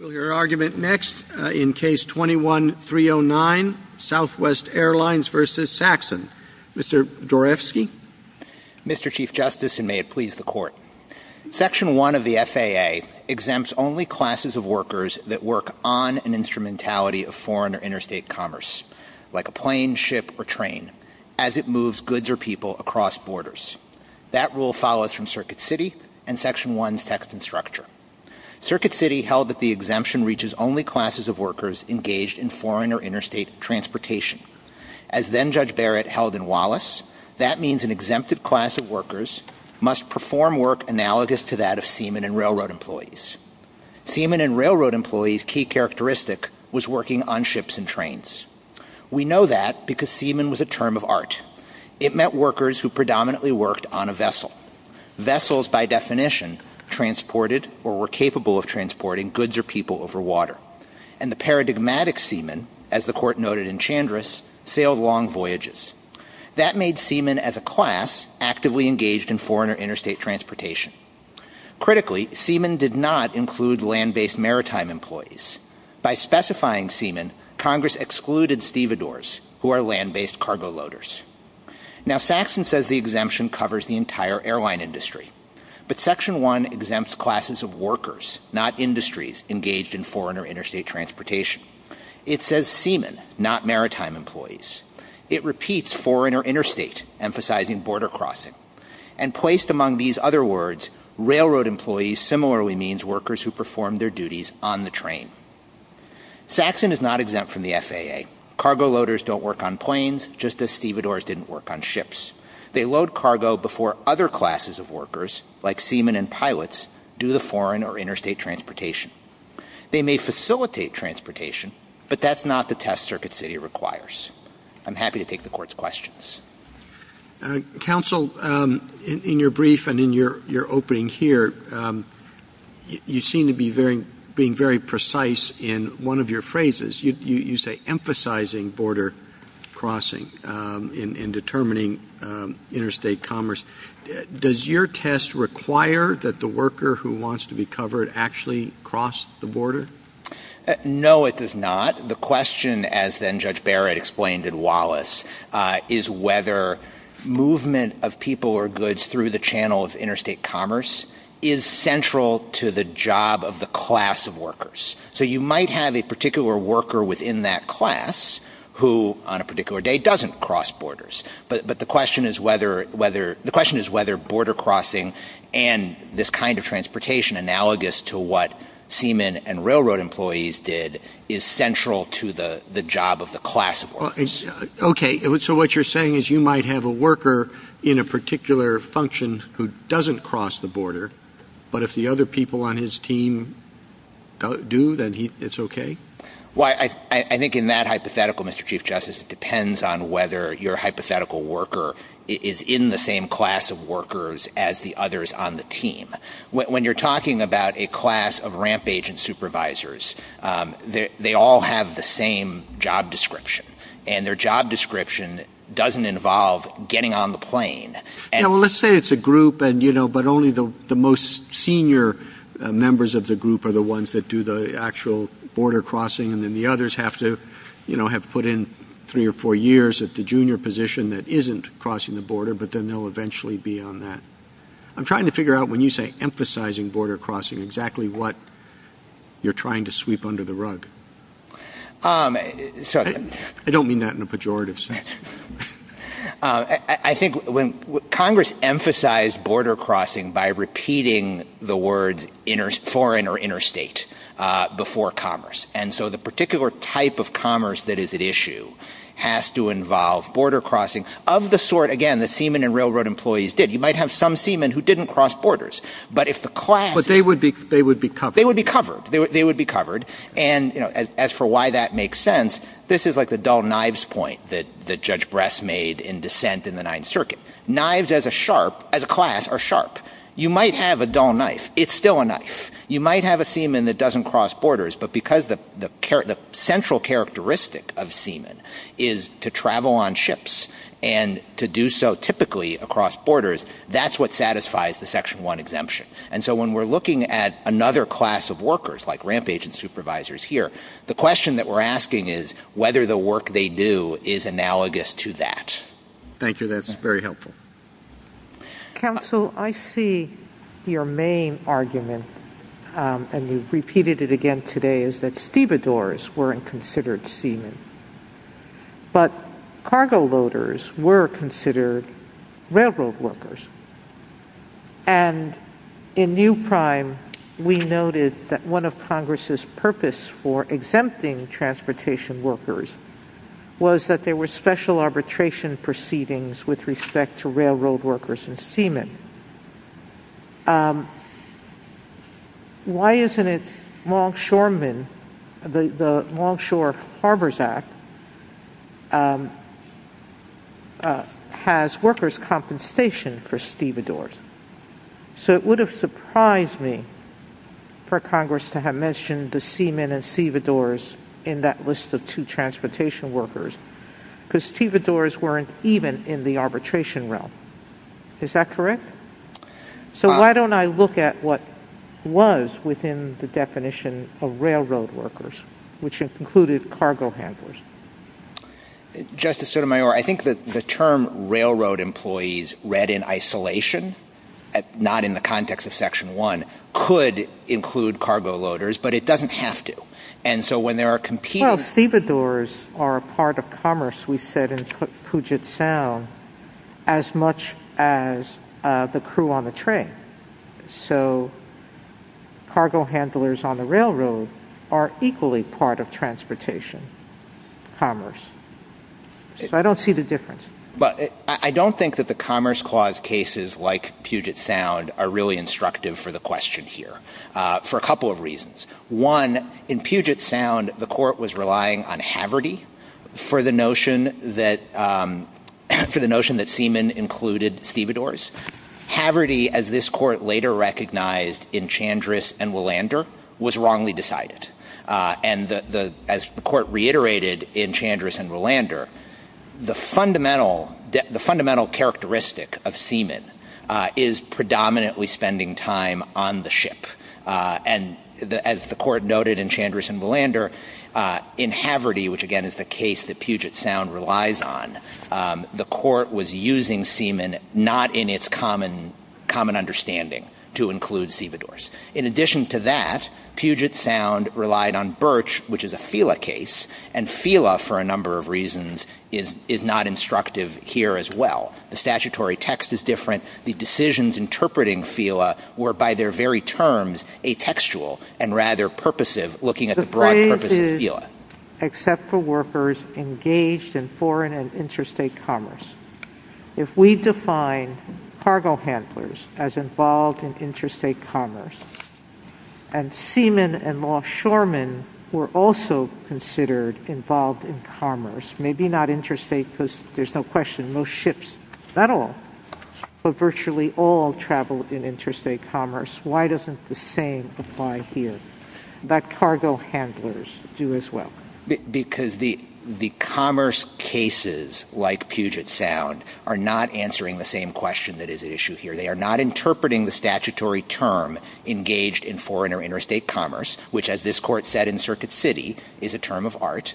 We'll hear argument next in Case 21-309, Southwest Airlines v. Saxon. Mr. Dorefsky. Mr. Chief Justice, and may it please the Court, Section 1 of the FAA exempts only classes of workers that work on an instrumentality of foreign or interstate commerce, like a plane, ship, or train, as it moves goods or people across borders. That rule follows from Circuit City held that the exemption reaches only classes of workers engaged in foreign or interstate transportation. As then-Judge Barrett held in Wallace, that means an exempted class of workers must perform work analogous to that of seamen and railroad employees. Seamen and railroad employees' key characteristic was working on ships and trains. We know that because seamen was a term of art. It meant workers who predominantly worked on a vessel. Vessels, by definition, transported or were capable of transporting goods or people over water. And the paradigmatic seamen, as the Court noted in Chandris, sailed long voyages. That made seamen as a class actively engaged in foreign or interstate transportation. Critically, seamen did not include land-based maritime employees. By specifying seamen, Congress excluded stevedores, who are land-based cargo loaders. Now, Saxon says the exemption covers the entire airline industry. But Section 1 exempts classes of workers, not industries, engaged in foreign or interstate transportation. It says seamen, not maritime employees. It repeats foreign or interstate, emphasizing border crossing. And placed among these other words, railroad employees similarly means workers who perform their duties on the train. Saxon is not exempt from the FAA. Cargo loaders don't work on planes, just as stevedores didn't work on ships. They load cargo before other classes of workers, like seamen and pilots, do the foreign or interstate transportation. They may facilitate transportation, but that's not the test Circuit City requires. I'm happy to take the Court's questions. Counsel, in your brief and in your opening here, you seem to be very, being very precise in one of your phrases. You say emphasizing border crossing in determining interstate commerce. Does your test require that the worker who wants to be covered actually cross the border? No, it does not. The question, as then Judge Barrett explained in Wallace, is whether movement of people or goods through the channel of interstate commerce is central to the job of the class of workers. So you might have a particular worker within that class who, on a particular day, doesn't cross borders. But the question is whether border crossing and this kind of transportation analogous to what seamen and railroad employees did is central to the job of the class of workers. Okay. So what you're saying is you might have a worker in a particular function who doesn't cross the border, but if the other people on his team do, then it's okay? Well, I think in that hypothetical, Mr. Chief Justice, it depends on whether your hypothetical worker is in the same class of workers as the others on the team. When you're talking about a class of ramp agent supervisors, they all have the same job description. And their job description doesn't involve getting on the plane. Well, let's say it's a group, but only the most senior members of the group are the ones that do the actual border crossing. And then the others have to have put in three or four years at the junior position that isn't crossing the border, but then they'll eventually be on that. I'm trying to figure out, when you say emphasizing border crossing, exactly what you're trying to sweep under the rug. Sorry. I don't mean that in a pejorative sense. I think when Congress emphasized border crossing by repeating the words foreign or interstate before commerce. And so the particular type of commerce that is at issue has to involve border crossing of the sort, again, that seamen and railroad employees did. You might have some seamen who didn't cross borders, but if the class is... But they would be covered. They would be covered. They would be covered. And as for why that makes sense, this is like the dull knives point that Judge Bress made in dissent in the Ninth Circuit. Knives as a sharp, as a class, are sharp. You might have a dull knife. It's still a knife. You might have a seaman that doesn't cross borders, but because the central characteristic of seamen is to travel on ships and to do so typically across borders, that's what satisfies the Section 1 exemption. And so when we're looking at another class of workers, like is analogous to that. Thank you. That's very helpful. Counsel, I see your main argument, and you've repeated it again today, is that stevedores weren't considered seamen, but cargo loaders were considered railroad workers. And in New York, what happened was that there were special arbitration proceedings with respect to railroad workers and seamen. Why isn't it Longshoremen, the Longshore Harbors Act, has workers' compensation for stevedores? So it would have surprised me for Congress to have mentioned the seamen and stevedores in that list of two transportation workers, because stevedores weren't even in the arbitration realm. Is that correct? So why don't I look at what was within the definition of railroad workers, which included cargo handlers? Justice Sotomayor, I think that the term railroad employees read in isolation, not in the context of Section 1, could include cargo loaders, but it doesn't have to. And so when there are competing... Well, stevedores are a part of commerce, we said, in Puget Sound, as much as the crew on the train. So cargo handlers on the railroad are equally part of transportation commerce. So I don't see the difference. But I don't think that the Commerce Clause cases like Puget Sound are really instructive for the question here, for a couple of reasons. One, in Puget Sound, the Court was relying on Haverty for the notion that seamen included stevedores. Haverty, as this Court later recognized in Chandris and Willander, was wrongly decided. And as the Court reiterated in Chandris and Willander, the fundamental characteristic of seamen is predominantly spending time on the ship. And as the Court noted in Chandris and Willander, in Haverty, which again is the case that Puget Sound relies on, the Court was using seamen not in its common understanding to include stevedores. In addition to that, Puget Sound relied on Birch, which is a FELA case. And FELA, for a number of reasons, is not instructive here as well. The statutory text is different. The decisions interpreting FELA were, by their very terms, atextual and rather purposive, looking at the broad purpose of FELA. The phrase is, except for workers engaged in foreign and interstate commerce. If we define cargo handlers as involved in interstate commerce and seamen and offshoremen were also considered involved in commerce, maybe not interstate because there's no question most ships, not all, but virtually all travel in interstate commerce, why doesn't the same apply here? But cargo handlers do as well. Because the commerce cases like Puget Sound are not answering the same question that is at issue here. They are not interpreting the statutory term engaged in foreign or interstate commerce, which, as this Court said in Circuit City, is a term of art.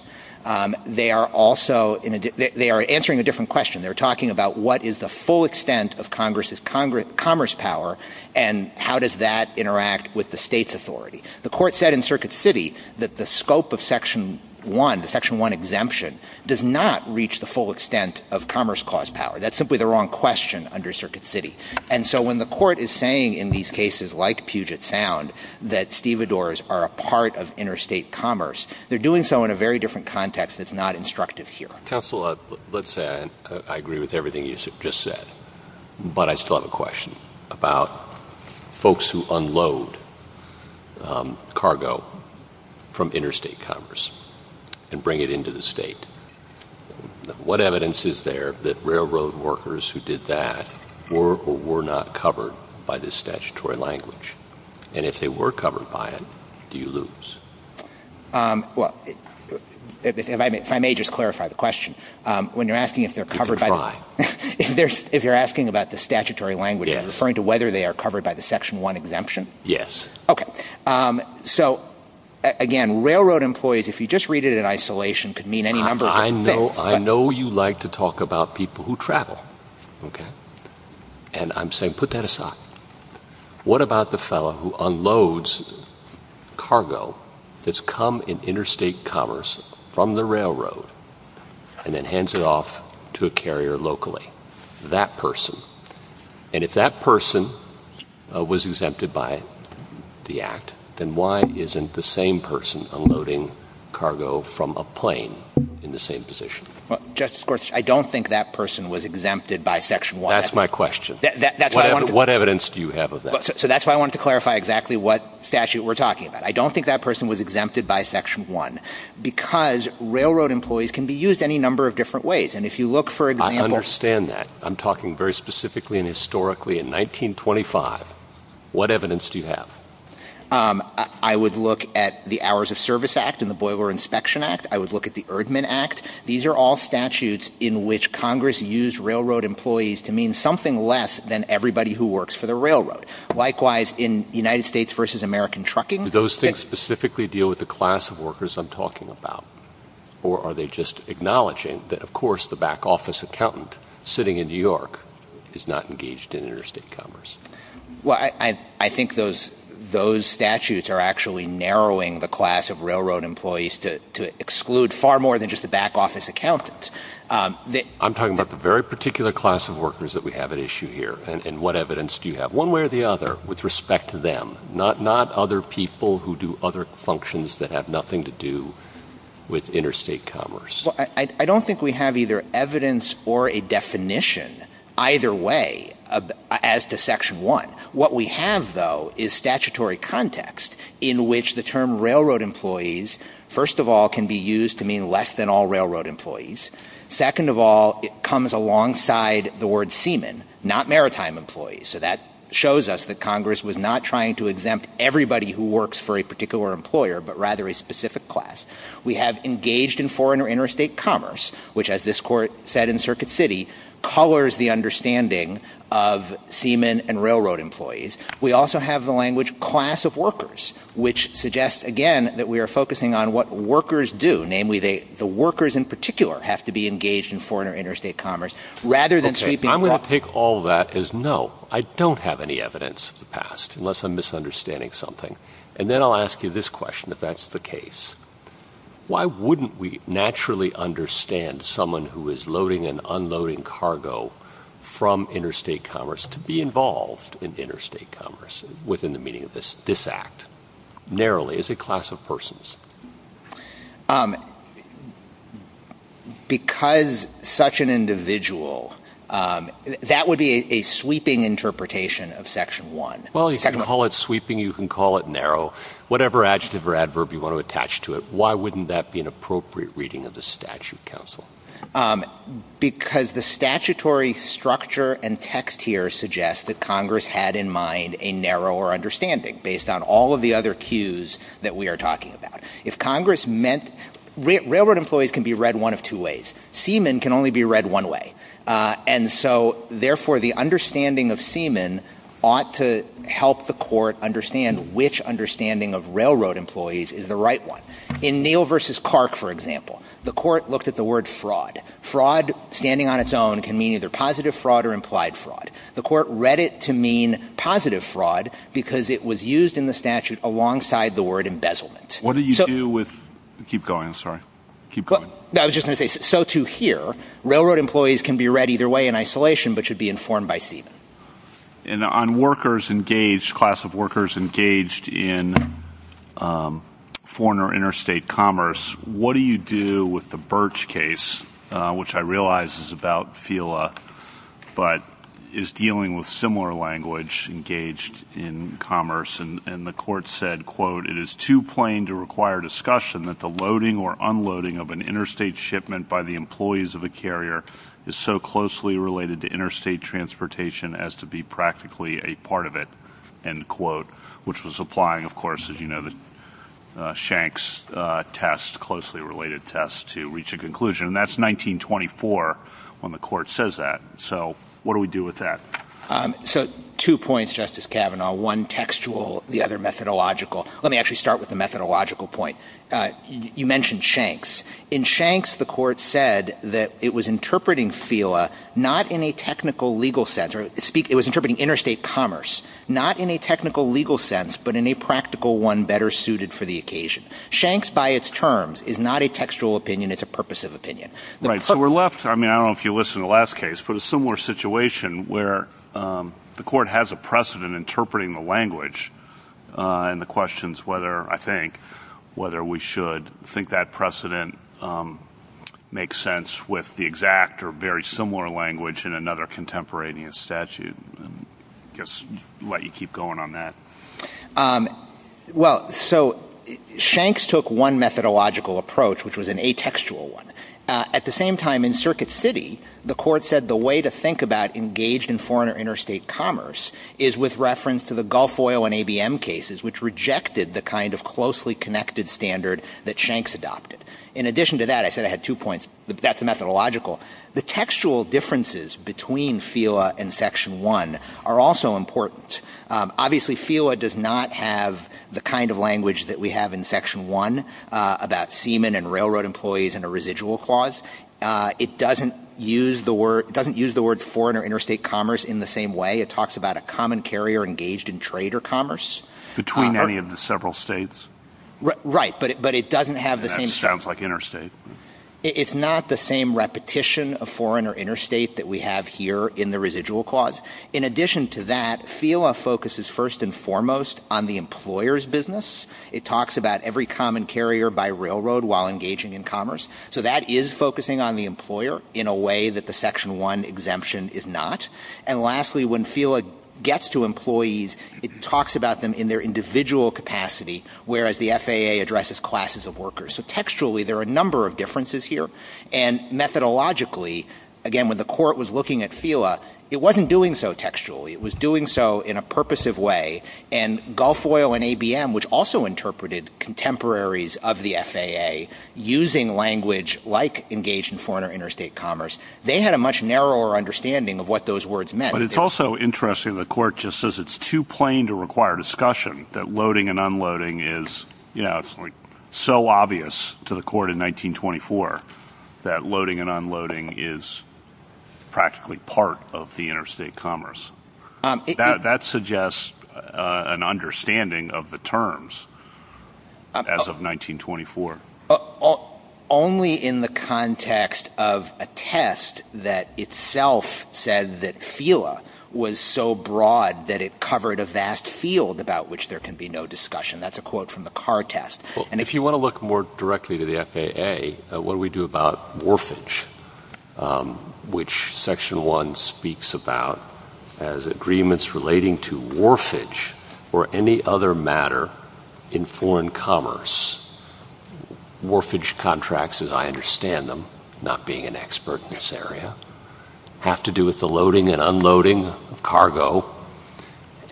They are also in a they are answering a different question. They're talking about what is the full extent of Congress's commerce power and how does that interact with the State's authority? The Court said in Circuit City that the scope of Section 1, the Section 1 exemption, does not reach the full extent of Commerce Clause power. That's simply the wrong question under Circuit City. And so when the Court is saying in these cases like Puget Sound that stevedores are a part of interstate commerce, they're doing so in a very different context that's not instructive here. Counsel, let's say I agree with everything you just said, but I still have a question about folks who unload cargo from interstate commerce and bring it into the State. What evidence is there that railroad workers who did that were or were not covered by this statutory language? And if they were covered by it, do you lose? Well, if I may just clarify the question. When you're asking if they're covered by the... You can try. If you're asking about the statutory language, you're referring to whether they are covered by the Section 1 exemption? Yes. Okay. So, again, railroad employees, if you just read it in isolation, could mean any number of things. I know you like to talk about people who travel, okay? And I'm saying put that person that's come in interstate commerce from the railroad and then hands it off to a carrier locally, that person. And if that person was exempted by the Act, then why isn't the same person unloading cargo from a plane in the same position? Justice Gorsuch, I don't think that person was exempted by Section 1. That's my question. That's why I wanted to... What evidence do you have of that? So that's why I wanted to clarify exactly what statute we're talking about. I don't think that person was exempted by Section 1 because railroad employees can be used any number of different ways. And if you look, for example... I understand that. I'm talking very specifically and historically. In 1925, what evidence do you have? I would look at the Hours of Service Act and the Boiler Inspection Act. I would look at the Erdman Act. These are all statutes in which Congress used railroad employees to mean something less than everybody who works for the railroad. Likewise, in United States v. American Trucking... Do those things specifically deal with the class of workers I'm talking about? Or are they just acknowledging that, of course, the back office accountant sitting in New York is not engaged in interstate commerce? Well, I think those statutes are actually narrowing the class of railroad employees to exclude far more than just the back office accountant. I'm talking about the very particular class of workers that we have at issue here. And what evidence do you have? One way or the other, with respect to them. Not other people who do other functions that have nothing to do with interstate commerce. Well, I don't think we have either evidence or a definition either way as to Section 1. What we have, though, is statutory context in which the term railroad employees, first of all, can be used to mean less than all railroad maritime employees. So that shows us that Congress was not trying to exempt everybody who works for a particular employer, but rather a specific class. We have engaged in foreign or interstate commerce, which, as this Court said in Circuit City, colors the understanding of seamen and railroad employees. We also have the language class of workers, which suggests, again, that we are focusing on what workers do, namely the workers in particular have to be engaged in foreign or interstate commerce rather than sweeping... And I'm going to take all that as no. I don't have any evidence of the past, unless I'm misunderstanding something. And then I'll ask you this question, if that's the case. Why wouldn't we naturally understand someone who is loading and unloading cargo from interstate commerce to be involved in interstate commerce within the meaning of this act, narrowly, as a class of persons? Because such an individual, that would be a sweeping interpretation of Section 1. Well, you can call it sweeping, you can call it narrow. Whatever adjective or adverb you want to attach to it, why wouldn't that be an appropriate reading of the statute, counsel? Because the statutory structure and text here suggests that Congress had in mind a narrower understanding, based on all of the other cues that we are talking about. If Congress meant... Railroad employees can be read one of two ways. Seamen can only be read one way. And so, therefore, the understanding of seamen ought to help the Court understand which understanding of railroad employees is the right one. In Neal v. Clark, for example, the Court looked at the word fraud. Fraud, standing on its own, can mean either positive fraud or implied fraud. The Court read it to mean positive fraud because it was used in the statute alongside the word embezzlement. What do you do with... Keep going, sorry. Keep going. I was just going to say, so to hear, railroad employees can be read either way in isolation, but should be informed by seamen. And on workers engaged, class of workers engaged in foreign or interstate commerce, what do you do with the Birch case, which I realize is about FILA, but is dealing with similar language engaged in commerce? And the Court said, quote, it is too plain to require discussion that the loading or unloading of an interstate shipment by the employees of a carrier is so closely related to interstate transportation as to be practically a part of it, end quote, which was applying, of course, as you know, the Shanks test, closely related test to reach a conclusion. And that's 1924 when the Court says that. So what do we do with that? So two points, Justice Kavanaugh. One textual, the other methodological. Let me actually start with the methodological point. You mentioned Shanks. In Shanks, the Court said that it was interpreting FILA not in a technical legal sense, or it was interpreting interstate commerce, not in a technical legal sense, but in a practical one better suited for the occasion. Shanks by its terms is not a textual opinion. It's a purposive opinion. Right. So we're left, I mean, I don't know if you listened to the last case, but a similar situation where the Court has a precedent interpreting the language and the questions whether, I think, whether we should think that precedent makes sense with the exact or very similar language in another contemporaneous statute. I guess I'll let you keep going on that. Well, so Shanks took one methodological approach, which was an atextual one. At the same time, in Circuit City, the Court said the way to think about engaged in foreign or interstate commerce is with reference to the Gulf Oil and ABM cases, which rejected the kind of closely connected standard that Shanks adopted. In addition to that, I said I had two points, but that's the methodological. The textual differences between FILA and Section 1 are also important. Obviously, FILA does not have the kind of language that we have in Section 1 about seamen and railroad employees in a residual clause. It doesn't use the words foreign or interstate commerce in the same way. It talks about a common carrier engaged in trade or commerce. Between any of the several states? Right, but it doesn't have the same – And that sounds like interstate. It's not the same repetition of foreign or interstate that we have here in the residual clause. In addition to that, FILA focuses first and foremost on the employer's business. It talks about every common carrier by railroad while engaging in trade, focusing on the employer in a way that the Section 1 exemption is not. And lastly, when FILA gets to employees, it talks about them in their individual capacity, whereas the FAA addresses classes of workers. So textually, there are a number of differences here. And methodologically, again, when the Court was looking at FILA, it wasn't doing so textually. It was doing so in a purposive way. And Gulf Oil and ABM, which also interpreted contemporaries of the FAA, using language like engaged in foreign or interstate commerce, they had a much narrower understanding of what those words meant. But it's also interesting the Court just says it's too plain to require discussion, that loading and unloading is, you know, it's like so obvious to the Court in 1924 that loading and unloading is practically part of the interstate commerce. That suggests an understanding of the terms as of 1924. Only in the context of a test that itself said that FILA was so broad that it covered a vast field about which there can be no discussion. That's a quote from the Carr test. And if you want to look more directly to the FAA, what do we do about warfage, which Section 1 speaks about as agreements relating to warfage or any other matter in foreign commerce? Warfage contracts, as I understand them, not being an expert in this area, have to do with the loading and unloading of cargo.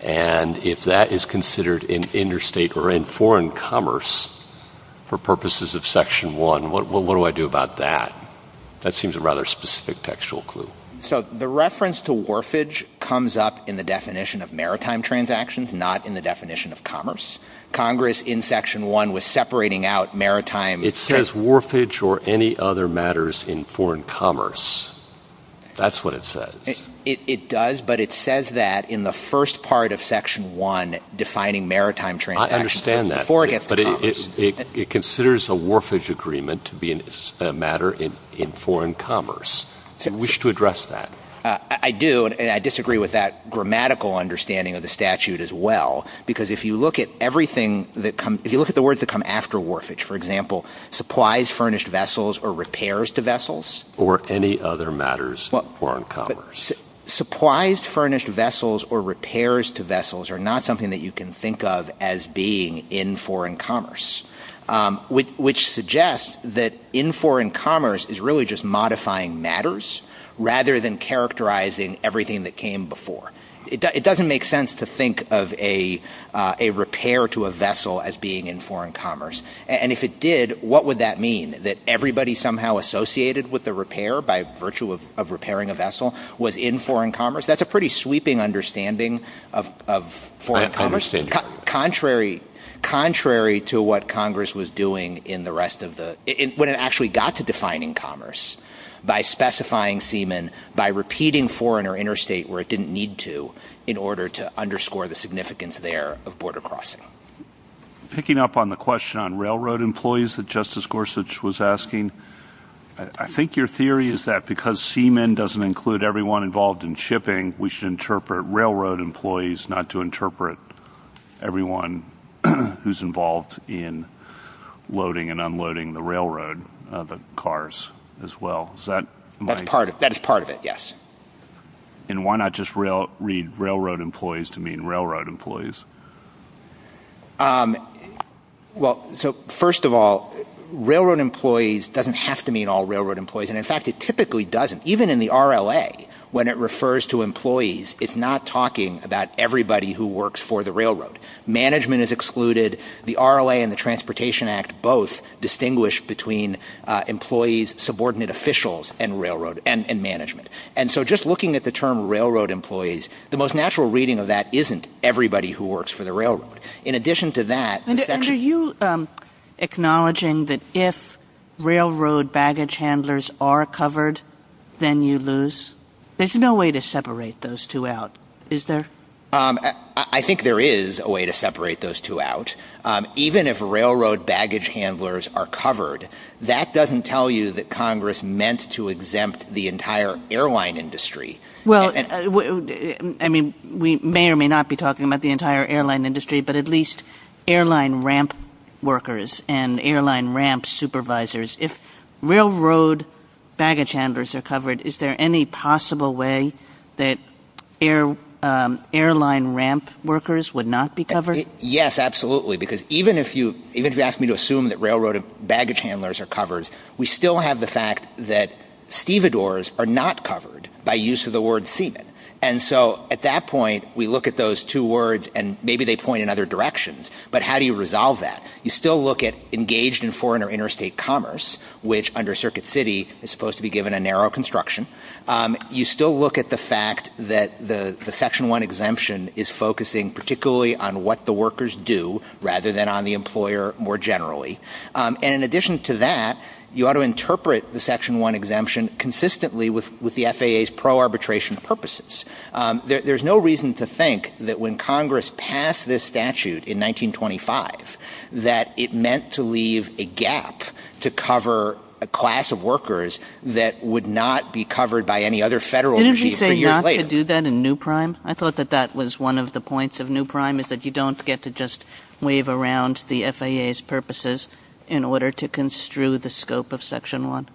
And if that is considered interstate or in foreign commerce for purposes of Section 1, what do I do about that? That seems a rather specific textual clue. So the reference to warfage comes up in the definition of maritime transactions, not in the definition of commerce. Congress in Section 1 was separating out maritime. It says warfage or any other matters in foreign commerce. That's what it says. It does, but it says that in the first part of Section 1 defining maritime transactions. I understand that. Before it gets to commerce. But it considers a warfage agreement to be a matter in foreign commerce. Do you wish to address that? I do, and I disagree with that grammatical understanding of the statute as well, because if you look at everything that comes, if you look at the words that come after warfage, for example, supplies furnished vessels or repairs to vessels. Or any other matters in foreign commerce. Supplies furnished vessels or repairs to vessels are not something that you can think of as being in foreign commerce, which suggests that in foreign commerce is really just modifying matters rather than characterizing everything that came before. It doesn't make sense to think of a repair to a vessel as being in foreign commerce. And if it did, what would that mean? That everybody somehow associated with the repair by virtue of repairing a vessel was in foreign commerce? That's a pretty sweeping understanding of foreign commerce. I understand your point. Contrary to what Congress was doing when it actually got to defining commerce, by specifying seamen, by repeating foreign or interstate where it didn't need to in order to underscore the significance there of border crossing. Picking up on the question on railroad employees that Justice Gorsuch was asking, I think your theory is that because seamen doesn't include everyone involved in shipping, I think we should interpret railroad employees not to interpret everyone who's involved in loading and unloading the railroad, the cars as well. That is part of it, yes. And why not just read railroad employees to mean railroad employees? Well, so first of all, railroad employees doesn't have to mean all railroad employees. And, in fact, it typically doesn't. Even in the RLA, when it refers to employees, it's not talking about everybody who works for the railroad. Management is excluded. The RLA and the Transportation Act both distinguish between employees, subordinate officials, and management. And so just looking at the term railroad employees, the most natural reading of that isn't everybody who works for the railroad. And are you acknowledging that if railroad baggage handlers are covered, then you lose? There's no way to separate those two out, is there? I think there is a way to separate those two out. Even if railroad baggage handlers are covered, that doesn't tell you that Congress meant to exempt the entire airline industry. Well, I mean, we may or may not be talking about the entire airline industry, but at least airline ramp workers and airline ramp supervisors. If railroad baggage handlers are covered, is there any possible way that airline ramp workers would not be covered? Yes, absolutely, because even if you ask me to assume that railroad baggage handlers are covered, we still have the fact that stevedores are not covered by use of the word seaman. And so at that point, we look at those two words, and maybe they point in other directions, but how do you resolve that? You still look at engaged in foreign or interstate commerce, which under Circuit City is supposed to be given a narrow construction. You still look at the fact that the Section 1 exemption is focusing particularly on what the workers do rather than on the employer more generally. And in addition to that, you ought to interpret the Section 1 exemption consistently with the FAA's pro-arbitration purposes. There's no reason to think that when Congress passed this statute in 1925 that it meant to leave a gap to cover a class of workers that would not be covered by any other Federal regime for years later. Didn't we say not to do that in New Prime? I thought that that was one of the points of New Prime, is that you don't get to just wave around the FAA's purposes in order to construe the scope of Section 1.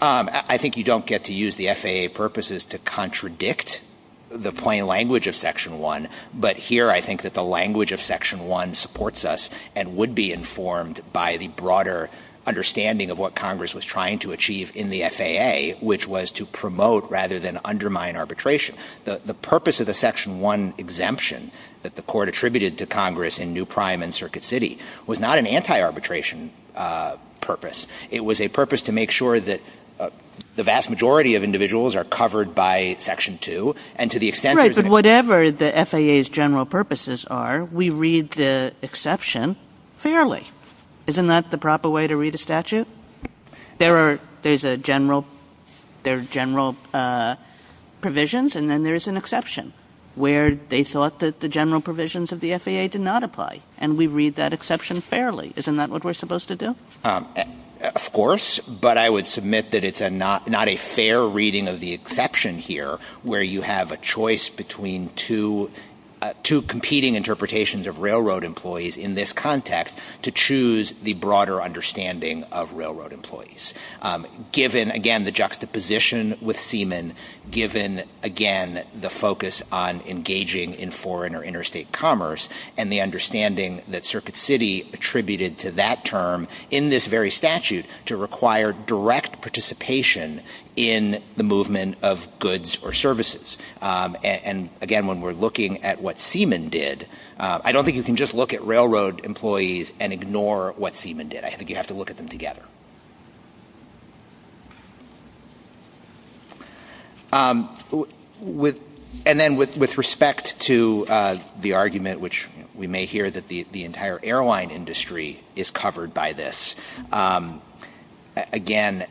I think you don't get to use the FAA purposes to contradict the plain language of Section 1, but here I think that the language of Section 1 supports us and would be informed by the broader understanding of what Congress was trying to achieve in the FAA, which was to promote rather than undermine arbitration. The purpose of the Section 1 exemption that the Court attributed to Congress in New Prime and Circuit City was not an anti-arbitration purpose. It was a purpose to make sure that the vast majority of individuals are covered by Section 2, and to the extent there's an – Right, but whatever the FAA's general purposes are, we read the exception fairly. Isn't that the proper way to read a statute? There are – there's a general – there are general provisions, and then there's an exception, where they thought that the general provisions of the FAA did not apply, and we read that exception fairly. Isn't that what we're supposed to do? Of course, but I would submit that it's not a fair reading of the exception here, where you have a choice between two competing interpretations of railroad employees in this context to choose the broader understanding of railroad employees. Given, again, the juxtaposition with seamen, given, again, the focus on engaging in foreign or interstate commerce, and the understanding that Circuit City attributed to that term in this very statute to require direct participation in the movement of goods or services. And, again, when we're looking at what seamen did, I don't think you can just look at railroad employees and ignore what seamen did. I think you have to look at them together. And then with respect to the argument, which we may hear, that the entire airline industry is covered by this, again,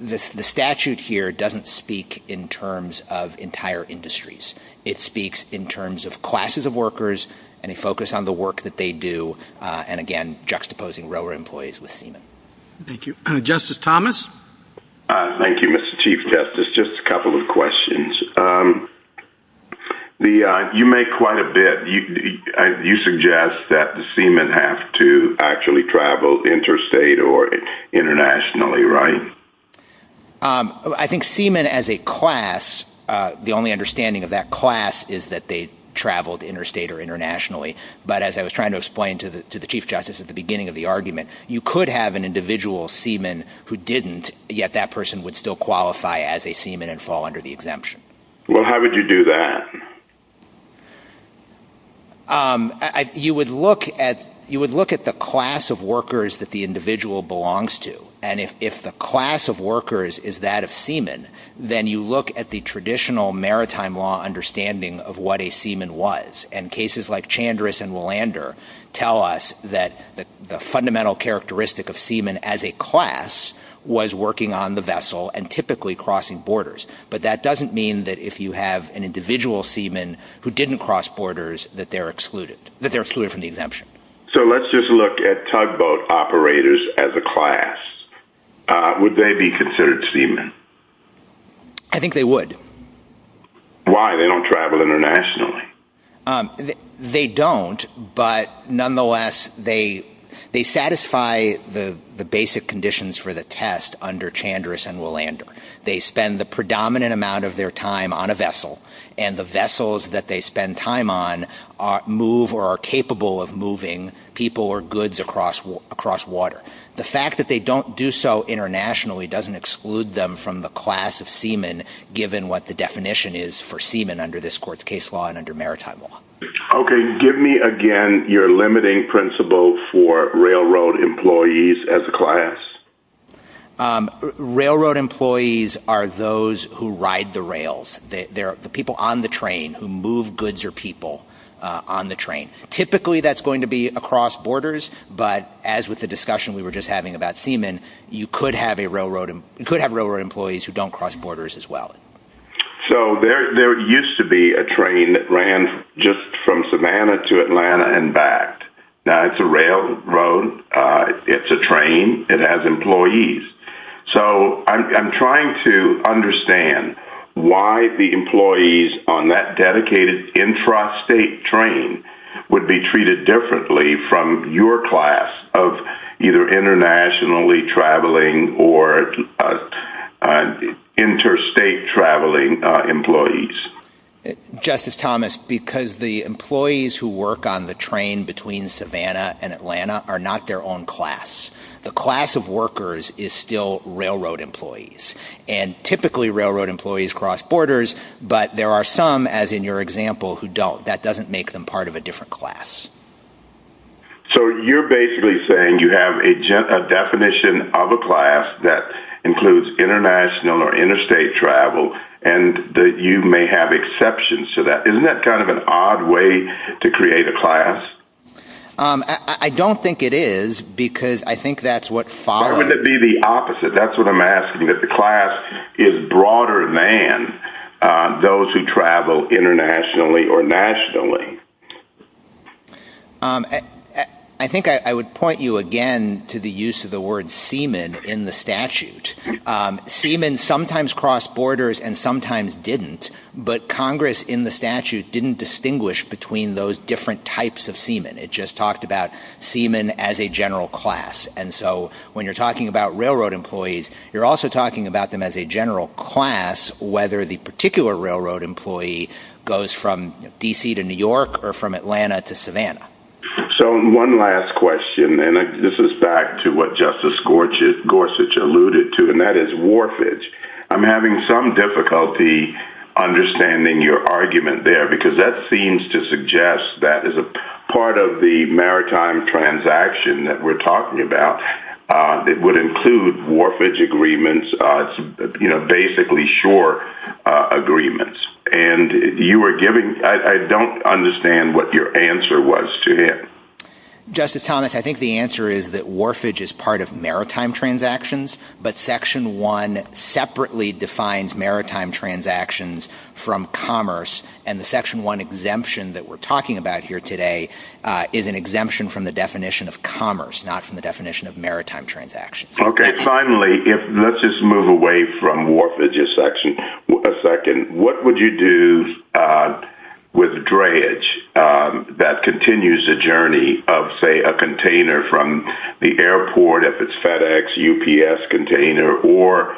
the statute here doesn't speak in terms of entire industries. It speaks in terms of classes of workers and a focus on the work that they do, and, again, juxtaposing railroad employees with seamen. Thank you. Justice Thomas? Thank you, Mr. Chief Justice. Just a couple of questions. You make quite a bit. You suggest that the seamen have to actually travel interstate or internationally, right? I think seamen as a class, the only understanding of that class is that they traveled interstate or internationally. But as I was trying to explain to the Chief Justice at the beginning of the argument, you could have an individual seaman who didn't, yet that person would still qualify as a seaman and fall under the exemption. Well, how would you do that? You would look at the class of workers that the individual belongs to. And if the class of workers is that of seaman, then you look at the traditional maritime law understanding of what a seaman was. And cases like Chandris and Willander tell us that the fundamental characteristic of seaman as a class was working on the vessel and typically crossing borders. But that doesn't mean that if you have an individual seaman who didn't cross borders that they're excluded from the exemption. So let's just look at tugboat operators as a class. Would they be considered seamen? I think they would. Why? They don't travel internationally. They don't, but nonetheless, they satisfy the basic conditions for the test under Chandris and Willander. They spend the predominant amount of their time on a vessel, and the vessels that they spend time on move or are capable of moving people or goods across water. The fact that they don't do so internationally doesn't exclude them from the class of seaman, given what the definition is for seaman under this court's case law and under maritime law. Okay, give me again your limiting principle for railroad employees as a class. Railroad employees are those who ride the rails. They're the people on the train who move goods or people on the train. Typically that's going to be across borders, but as with the discussion we were just having about seaman, you could have railroad employees who don't cross borders as well. So there used to be a train that ran just from Savannah to Atlanta and back. Now it's a railroad. It's a train. It has employees. So I'm trying to understand why the employees on that dedicated intrastate train would be treated differently from your class of either internationally traveling or interstate traveling employees. Justice Thomas, because the employees who work on the train between Savannah and Atlanta are not their own class. The class of workers is still railroad employees, and typically railroad employees cross borders, but there are some, as in your example, who don't. That doesn't make them part of a different class. So you're basically saying you have a definition of a class that includes international or interstate travel and that you may have exceptions to that. Isn't that kind of an odd way to create a class? I don't think it is because I think that's what follows. It would be the opposite. That's what I'm asking, that the class is broader than those who travel internationally or nationally. I think I would point you again to the use of the word seaman in the statute. Seamen sometimes cross borders and sometimes didn't, but Congress in the statute didn't distinguish between those different types of seaman. It just talked about seaman as a general class. And so when you're talking about railroad employees, you're also talking about them as a general class, whether the particular railroad employee goes from D.C. to New York or from Atlanta to Savannah. So one last question, and this is back to what Justice Gorsuch alluded to, and that is warfage. I'm having some difficulty understanding your argument there, because that seems to suggest that as a part of the maritime transaction that we're talking about, it would include warfage agreements, basically shore agreements. I don't understand what your answer was to him. Justice Thomas, I think the answer is that warfage is part of maritime transactions, but Section 1 separately defines maritime transactions from commerce, and the Section 1 exemption that we're talking about here today is an exemption from the definition of commerce, not from the definition of maritime transactions. Okay, finally, let's just move away from warfage a second. What would you do with dreyage that continues the journey of, say, a container from the airport, if it's FedEx, UPS container, or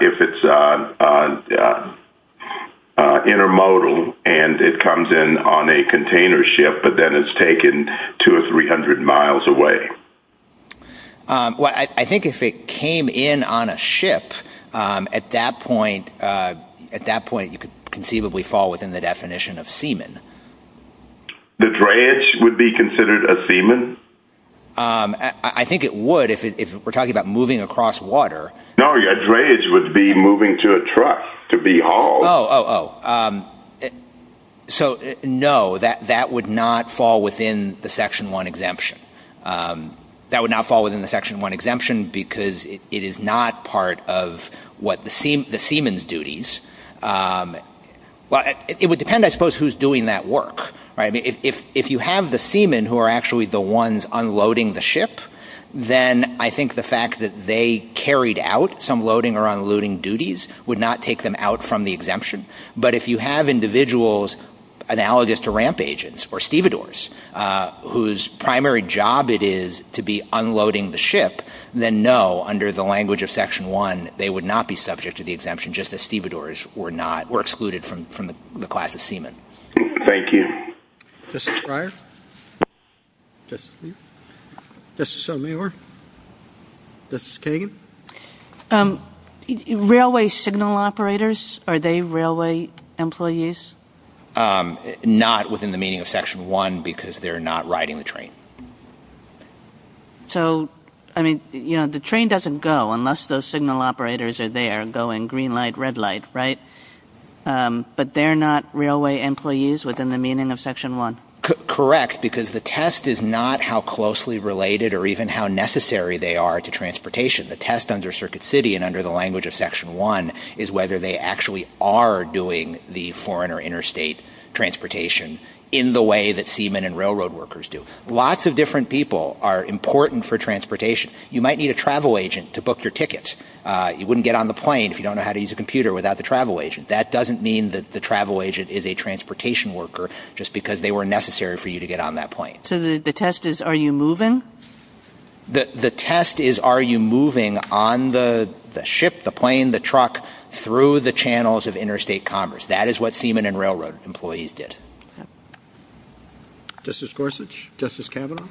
if it's intermodal and it comes in on a container ship, but then it's taken 200 or 300 miles away? Well, I think if it came in on a ship, at that point you could conceivably fall within the definition of seamen. The dreyage would be considered a seaman? I think it would if we're talking about moving across water. No, a dreyage would be moving to a truck to be hauled. Oh, oh, oh. So, no, that would not fall within the Section 1 exemption. That would not fall within the Section 1 exemption because it is not part of what the seamen's duties. Well, it would depend, I suppose, who's doing that work. If you have the seamen who are actually the ones unloading the ship, then I think the fact that they carried out some loading or unloading duties would not take them out from the exemption. But if you have individuals analogous to ramp agents or stevedores whose primary job it is to be unloading the ship, then no, under the language of Section 1, they would not be subject to the exemption, just as stevedores were excluded from the class of seamen. Thank you. Justice Breyer? Justice Leib? Justice Sotomayor? Justice Kagan? Railway signal operators, are they railway employees? Not within the meaning of Section 1 because they're not riding the train. So, I mean, you know, the train doesn't go unless those signal operators are there going green light, red light, right? But they're not railway employees within the meaning of Section 1? Correct, because the test is not how closely related or even how necessary they are to transportation. The test under Circuit City and under the language of Section 1 is whether they actually are doing the foreign or interstate transportation in the way that seamen and railroad workers do. Lots of different people are important for transportation. You might need a travel agent to book your ticket. You wouldn't get on the plane if you don't know how to use a computer without the travel agent. That doesn't mean that the travel agent is a transportation worker just because they were necessary for you to get on that plane. So the test is are you moving? The test is are you moving on the ship, the plane, the truck, through the channels of interstate commerce. That is what seamen and railroad employees did. Justice Gorsuch? Justice Kavanaugh?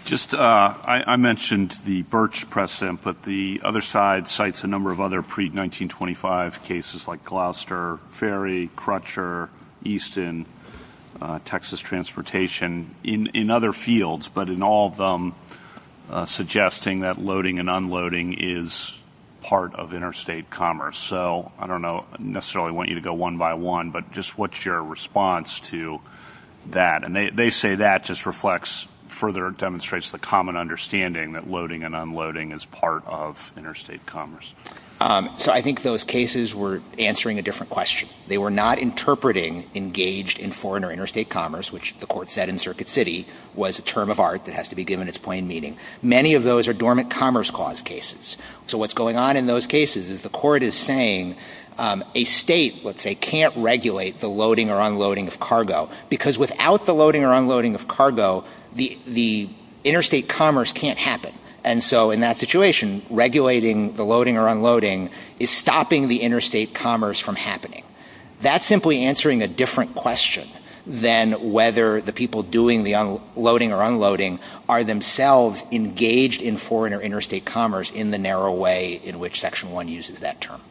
I mentioned the Birch precedent, but the other side cites a number of other pre-1925 cases like Gloucester, Ferry, Crutcher, Easton, Texas Transportation in other fields, but in all of them suggesting that loading and unloading is part of interstate commerce. So I don't necessarily want you to go one by one, but just what's your response to that? And they say that just reflects, further demonstrates the common understanding that loading and unloading is part of interstate commerce. So I think those cases were answering a different question. They were not interpreting engaged in foreign or interstate commerce, which the court said in Circuit City was a term of art that has to be given its plain meaning. Many of those are dormant commerce clause cases. So what's going on in those cases is the court is saying a state, let's say, can't regulate the loading or unloading of cargo, because without the loading or unloading of cargo, the interstate commerce can't happen. And so in that situation, regulating the loading or unloading is stopping the interstate commerce from happening. That's simply answering a different question than whether the people doing the loading or unloading are themselves engaged in foreign or interstate commerce in the narrow way in which Section 1 uses that term.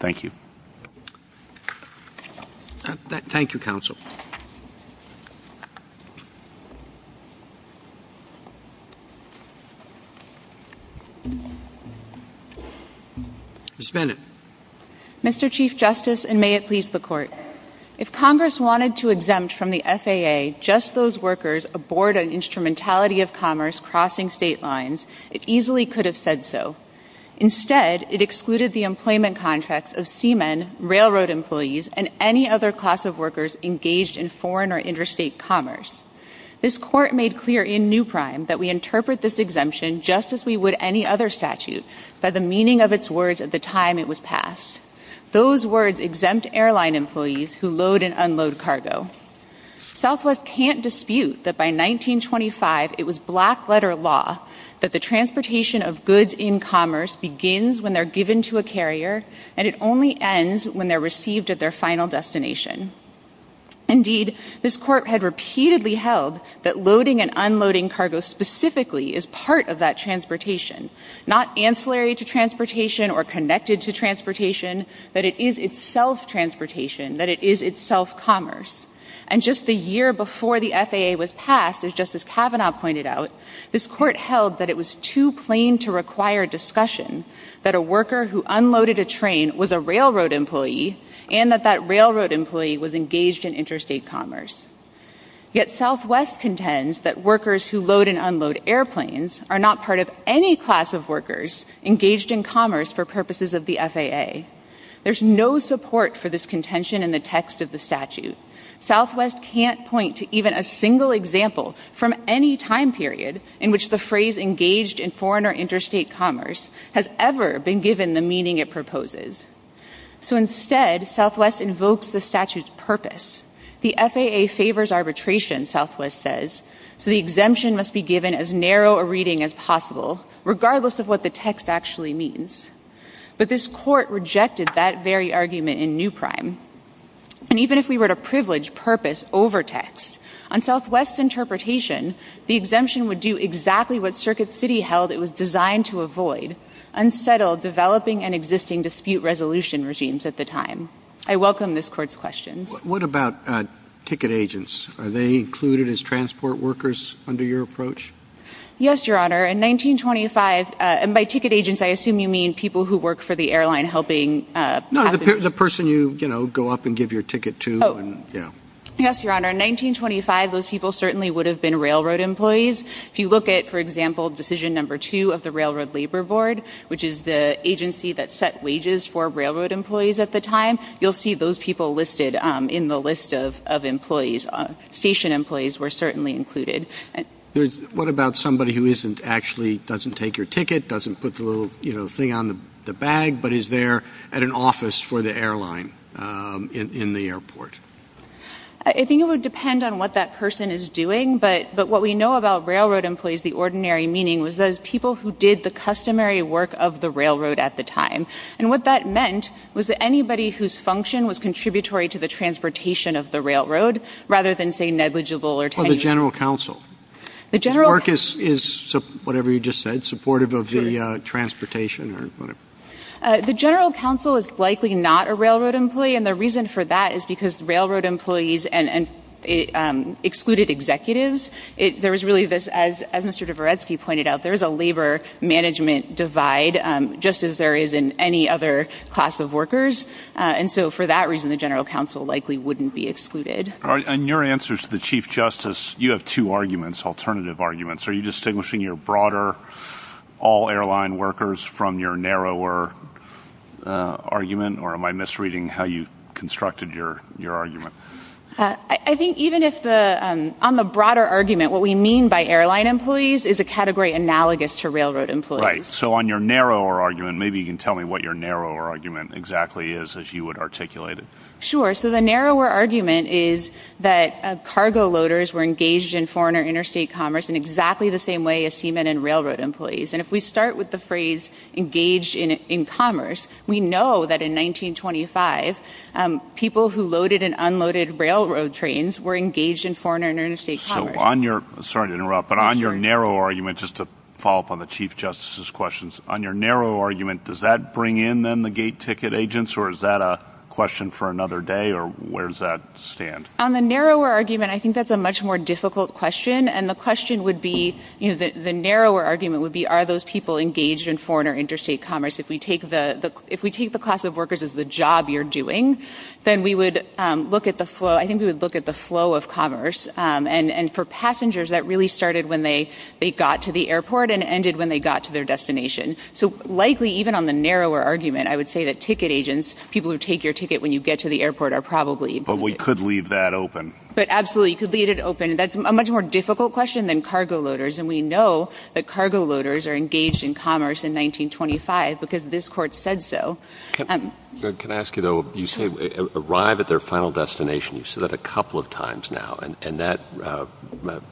Thank you. Thank you, Counsel. Ms. Bennett. Mr. Chief Justice, and may it please the Court, if Congress wanted to exempt from the FAA just those workers aboard an instrumentality of commerce crossing state lines, it easily could have said so. Instead, it excluded the employment contracts of seamen, railroad employees, and any other class of workers engaged in foreign or interstate commerce. This Court made clear in Newprime that we interpret this exemption just as we would any other statute by the meaning of its words at the time it was passed. Those words exempt airline employees who load and unload cargo. Southwest can't dispute that by 1925 it was black-letter law that the transportation of goods in commerce begins when they're given to a carrier and it only ends when they're received at their final destination. Indeed, this Court had repeatedly held that loading and unloading cargo specifically is part of that transportation, not ancillary to transportation or connected to transportation, but it is itself transportation, that it is itself commerce. And just the year before the FAA was passed, as Justice Kavanaugh pointed out, this Court held that it was too plain to require discussion that a worker who unloaded a train was a railroad employee and that that railroad employee was engaged in interstate commerce. Yet Southwest contends that workers who load and unload airplanes are not part of any class of workers engaged in commerce for purposes of the FAA. There's no support for this contention in the text of the statute. Southwest can't point to even a single example from any time period in which the phrase engaged in foreign or interstate commerce has ever been given the meaning it proposes. So instead, Southwest invokes the statute's purpose. The FAA favors arbitration, Southwest says, so the exemption must be given as narrow a reading as possible, regardless of what the text actually means. But this Court rejected that very argument in New Prime. And even if we were to privilege purpose over text, on Southwest's interpretation, the exemption would do exactly what Circuit City held it was designed to avoid, unsettle developing and existing dispute resolution regimes at the time. I welcome this Court's questions. What about ticket agents? Are they included as transport workers under your approach? Yes, Your Honor. In 1925, and by ticket agents I assume you mean people who work for the airline helping passengers. The person you go up and give your ticket to. Yes, Your Honor. In 1925, those people certainly would have been railroad employees. If you look at, for example, decision number two of the Railroad Labor Board, which is the agency that set wages for railroad employees at the time, you'll see those people listed in the list of employees. Station employees were certainly included. What about somebody who actually doesn't take your ticket, doesn't put the little, you know, thing on the bag, but is there at an office for the airline in the airport? I think it would depend on what that person is doing. But what we know about railroad employees, the ordinary meaning, was those people who did the customary work of the railroad at the time. And what that meant was that anybody whose function was contributory to the transportation of the railroad rather than, say, negligible or tenuous. Or the general counsel. His work is, whatever you just said, supportive of the transportation or whatever. The general counsel is likely not a railroad employee, and the reason for that is because railroad employees excluded executives. There was really this, as Mr. Dvoretsky pointed out, there is a labor management divide just as there is in any other class of workers. And so for that reason, the general counsel likely wouldn't be excluded. In your answers to the Chief Justice, you have two arguments, alternative arguments. Are you distinguishing your broader all-airline workers from your narrower argument? Or am I misreading how you constructed your argument? I think even if the, on the broader argument, what we mean by airline employees is a category analogous to railroad employees. Right. So on your narrower argument, maybe you can tell me what your narrower argument exactly is as you would articulate it. Sure. So the narrower argument is that cargo loaders were engaged in foreign or interstate commerce in exactly the same way as seamen and railroad employees. And if we start with the phrase engaged in commerce, we know that in 1925, people who loaded and unloaded railroad trains were engaged in foreign or interstate commerce. So on your, sorry to interrupt, but on your narrow argument, just to follow up on the Chief Justice's questions, on your narrow argument, does that bring in then the gate ticket agents, or is that a question for another day, or where does that stand? On the narrower argument, I think that's a much more difficult question. And the question would be, you know, the narrower argument would be, are those people engaged in foreign or interstate commerce? If we take the class of workers as the job you're doing, then we would look at the flow, I think we would look at the flow of commerce. And for passengers, that really started when they got to the airport and ended when they got to their destination. So likely, even on the narrower argument, I would say that ticket agents, people who take your ticket when you get to the airport, are probably. But we could leave that open. But absolutely, you could leave it open. That's a much more difficult question than cargo loaders, and we know that cargo loaders are engaged in commerce in 1925 because this Court said so. Can I ask you, though, you say arrive at their final destination. You've said that a couple of times now, and that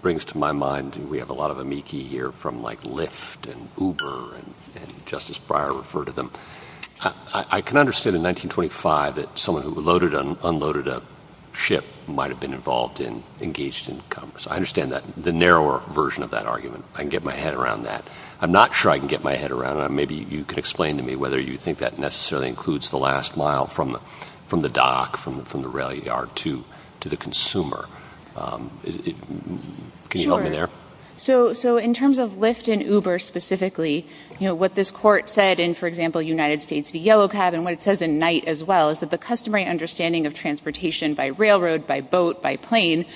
brings to my mind, and we have a lot of amici here from, like, Lyft and Uber, and Justice Breyer referred to them. I can understand in 1925 that someone who unloaded a ship might have been involved in, engaged in commerce. I understand the narrower version of that argument. I can get my head around that. I'm not sure I can get my head around it. Maybe you can explain to me whether you think that necessarily includes the last mile from the dock, from the rail yard to the consumer. Can you help me there? Sure. So in terms of Lyft and Uber specifically, you know, what this Court said in, for example, United States v. Yellow Cab, and what it says in Knight as well is that the customary understanding of transportation by railroad, by boat, by plane,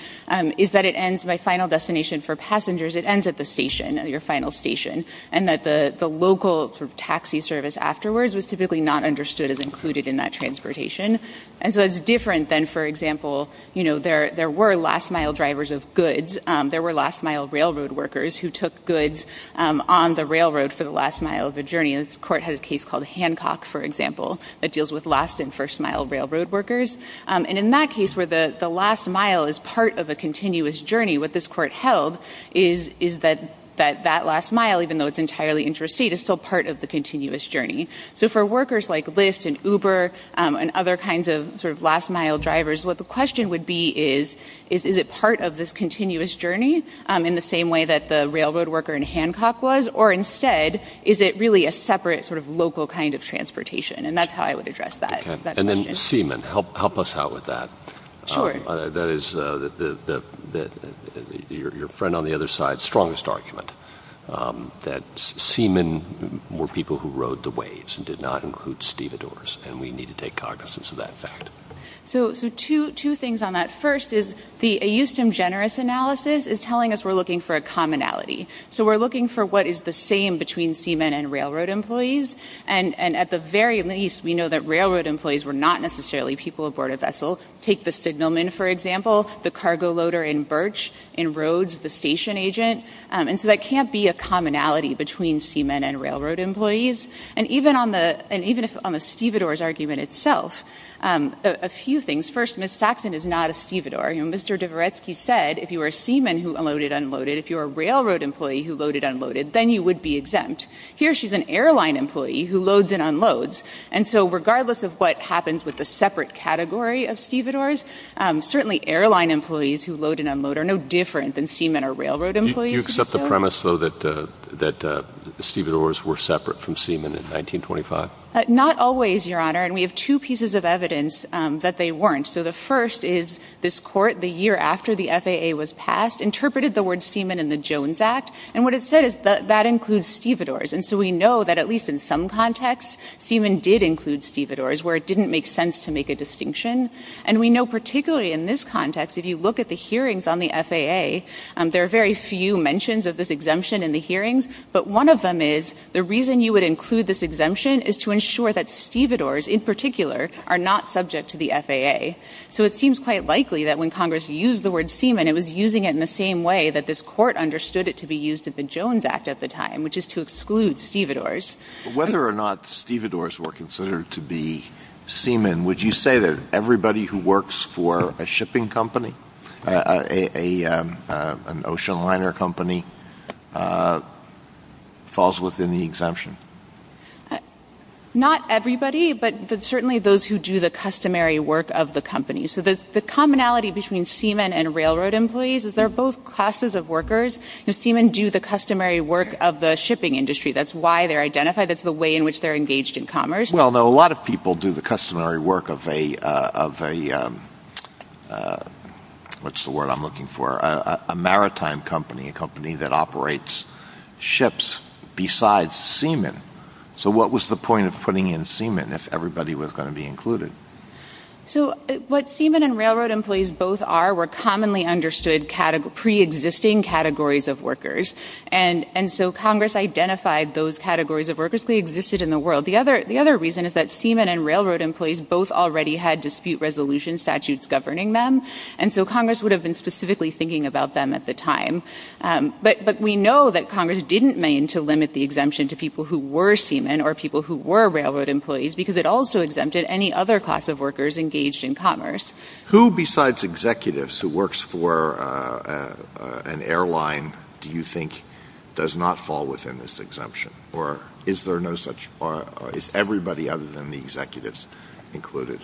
is that it ends by final destination for passengers. It ends at the station, your final station, and that the local taxi service afterwards was typically not understood as included in that transportation. And so it's different than, for example, you know, there were last mile drivers of goods. There were last mile railroad workers who took goods on the railroad for the last mile of the journey. This Court has a case called Hancock, for example, that deals with last and first mile railroad workers. And in that case where the last mile is part of a continuous journey, what this Court held is that that last mile, even though it's entirely interstate, is still part of the continuous journey. So for workers like Lyft and Uber and other kinds of sort of last mile drivers, what the question would be is, is it part of this continuous journey in the same way that the railroad worker in Hancock was? Or instead, is it really a separate sort of local kind of transportation? And that's how I would address that. And then seamen, help us out with that. Sure. That is your friend on the other side's strongest argument, that seamen were people who rode the waves and did not include stevedores. And we need to take cognizance of that fact. So two things on that. First is the Euston Generous Analysis is telling us we're looking for a commonality. So we're looking for what is the same between seamen and railroad employees. And at the very least, we know that railroad employees were not necessarily people aboard a vessel. Take the signalman, for example, the cargo loader in Birch, in Rhodes, the station agent. And so that can't be a commonality between seamen and railroad employees. And even on the stevedores argument itself, a few things. First, Ms. Saxon is not a stevedore. Mr. Dvoretsky said, if you were a seaman who unloaded, unloaded, if you were a railroad employee who loaded, unloaded, then you would be exempt. Here, she's an airline employee who loads and unloads. And so regardless of what happens with the separate category of stevedores, certainly airline employees who load and unload are no different than seamen or railroad employees. Do you accept the premise, though, that stevedores were separate from seamen in 1925? Not always, Your Honor. And we have two pieces of evidence that they weren't. So the first is this Court, the year after the FAA was passed, interpreted the word seaman in the Jones Act. And what it said is that that includes stevedores. And so we know that at least in some contexts, seamen did include stevedores where it didn't make sense to make a distinction. And we know particularly in this context, if you look at the hearings on the FAA, there are very few mentions of this exemption in the hearings. But one of them is the reason you would include this exemption is to ensure that stevedores in particular are not subject to the FAA. So it seems quite likely that when Congress used the word seaman, it was using it in the same way that this Court understood it to be used in the Jones Act at the time, which is to exclude stevedores. But whether or not stevedores were considered to be seamen, would you say that everybody who works for a shipping company, an ocean liner company, falls within the exemption? Not everybody, but certainly those who do the customary work of the company. So the commonality between seamen and railroad employees is they're both classes of workers. Seamen do the customary work of the shipping industry. That's why they're identified. That's the way in which they're engaged in commerce. Well, no, a lot of people do the customary work of a, what's the word I'm looking for, a maritime company, a company that operates ships besides seamen. So what was the point of putting in seamen if everybody was going to be included? So what seamen and railroad employees both are were commonly understood pre-existing categories of workers. And so Congress identified those categories of workers. They existed in the world. The other reason is that seamen and railroad employees both already had dispute resolution statutes governing them. And so Congress would have been specifically thinking about them at the time. But we know that Congress didn't mean to limit the exemption to people who were seamen or people who were railroad employees because it also exempted any other class of workers engaged in commerce. Who besides executives who works for an airline do you think does not fall within this exemption? Or is there no such, or is everybody other than the executives included?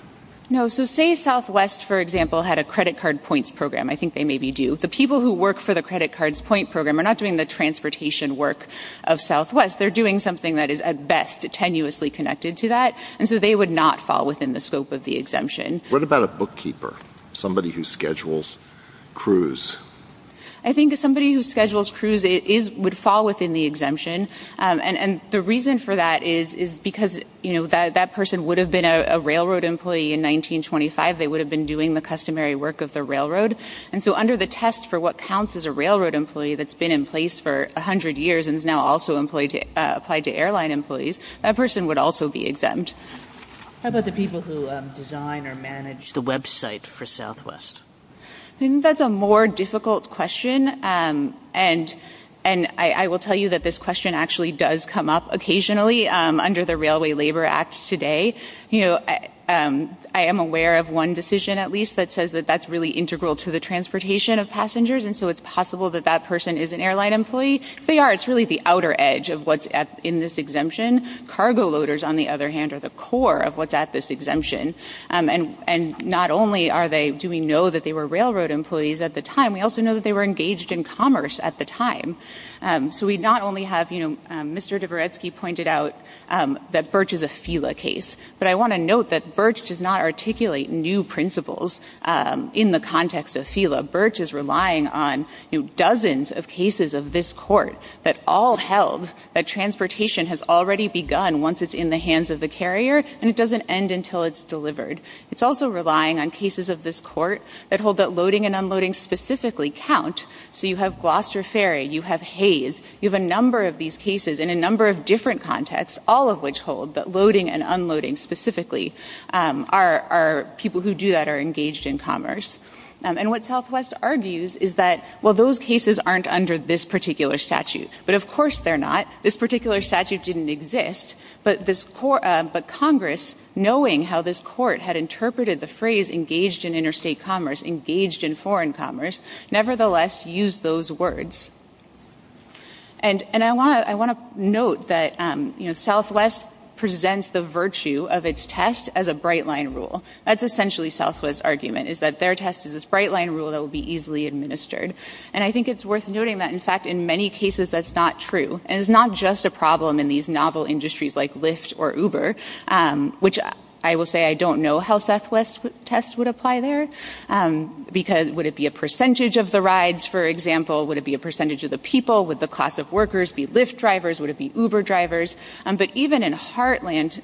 No. So say Southwest, for example, had a credit card points program. I think they maybe do. The people who work for the credit cards point program are not doing the transportation work of Southwest. They're doing something that is at best tenuously connected to that. And so they would not fall within the scope of the exemption. What about a bookkeeper, somebody who schedules cruise? I think somebody who schedules cruise would fall within the exemption. And the reason for that is because that person would have been a railroad employee in 1925. They would have been doing the customary work of the railroad. And so under the test for what counts as a railroad employee that's been in place for 100 years and is now also applied to airline employees, that person would also be exempt. How about the people who design or manage the website for Southwest? I think that's a more difficult question. And I will tell you that this question actually does come up occasionally under the Railway Labor Act today. You know, I am aware of one decision at least that says that that's really integral to the transportation of passengers. And so it's possible that that person is an airline employee. If they are, it's really the outer edge of what's in this exemption. Cargo loaders, on the other hand, are the core of what's at this exemption. And not only do we know that they were railroad employees at the time, we also know that they were engaged in commerce at the time. So we not only have, you know, Mr. Dvoretsky pointed out that Birch is a FILA case, but I want to note that Birch does not articulate new principles in the context of FILA. Birch is relying on, you know, dozens of cases of this court that all held that transportation has already begun once it's in the hands of the carrier and it doesn't end until it's delivered. It's also relying on cases of this court that hold that loading and unloading specifically count. So you have Gloucester Ferry. You have Hayes. You have a number of these cases in a number of different contexts, all of which hold that loading and unloading specifically are people who do that are engaged in commerce. And what Southwest argues is that, well, those cases aren't under this particular statute. But of course they're not. This particular statute didn't exist. But Congress, knowing how this court had interpreted the phrase engaged in interstate commerce, engaged in foreign commerce, nevertheless used those words. And I want to note that, you know, Southwest presents the virtue of its test as a bright-line rule. That's essentially Southwest's argument is that their test is this bright-line rule that will be easily administered. And I think it's worth noting that, in fact, in many cases that's not true. And it's not just a problem in these novel industries like Lyft or Uber, which I will say I don't know how Southwest tests would apply there. Because would it be a percentage of the rides, for example? Would it be a percentage of the people? Would the class of workers be Lyft drivers? Would it be Uber drivers? But even in Heartland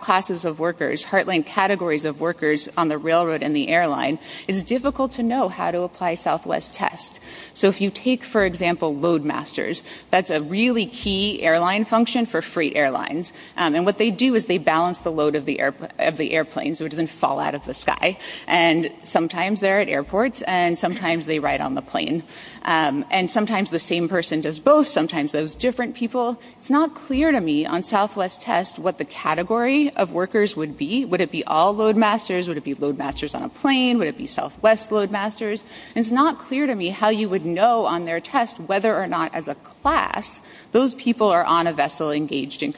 classes of workers, Heartland categories of workers on the railroad and the airline, it's difficult to know how to apply Southwest tests. So if you take, for example, loadmasters, that's a really key airline function for freight airlines. And what they do is they balance the load of the airplane so it doesn't fall out of the sky. And sometimes they're at airports and sometimes they ride on the plane. And sometimes the same person does both. Sometimes those different people. It's not clear to me on Southwest tests what the category of workers would be. Would it be all loadmasters? Would it be loadmasters on a plane? Would it be Southwest loadmasters? And it's not clear to me how you would know on their test whether or not as a class those people are on a vessel engaged in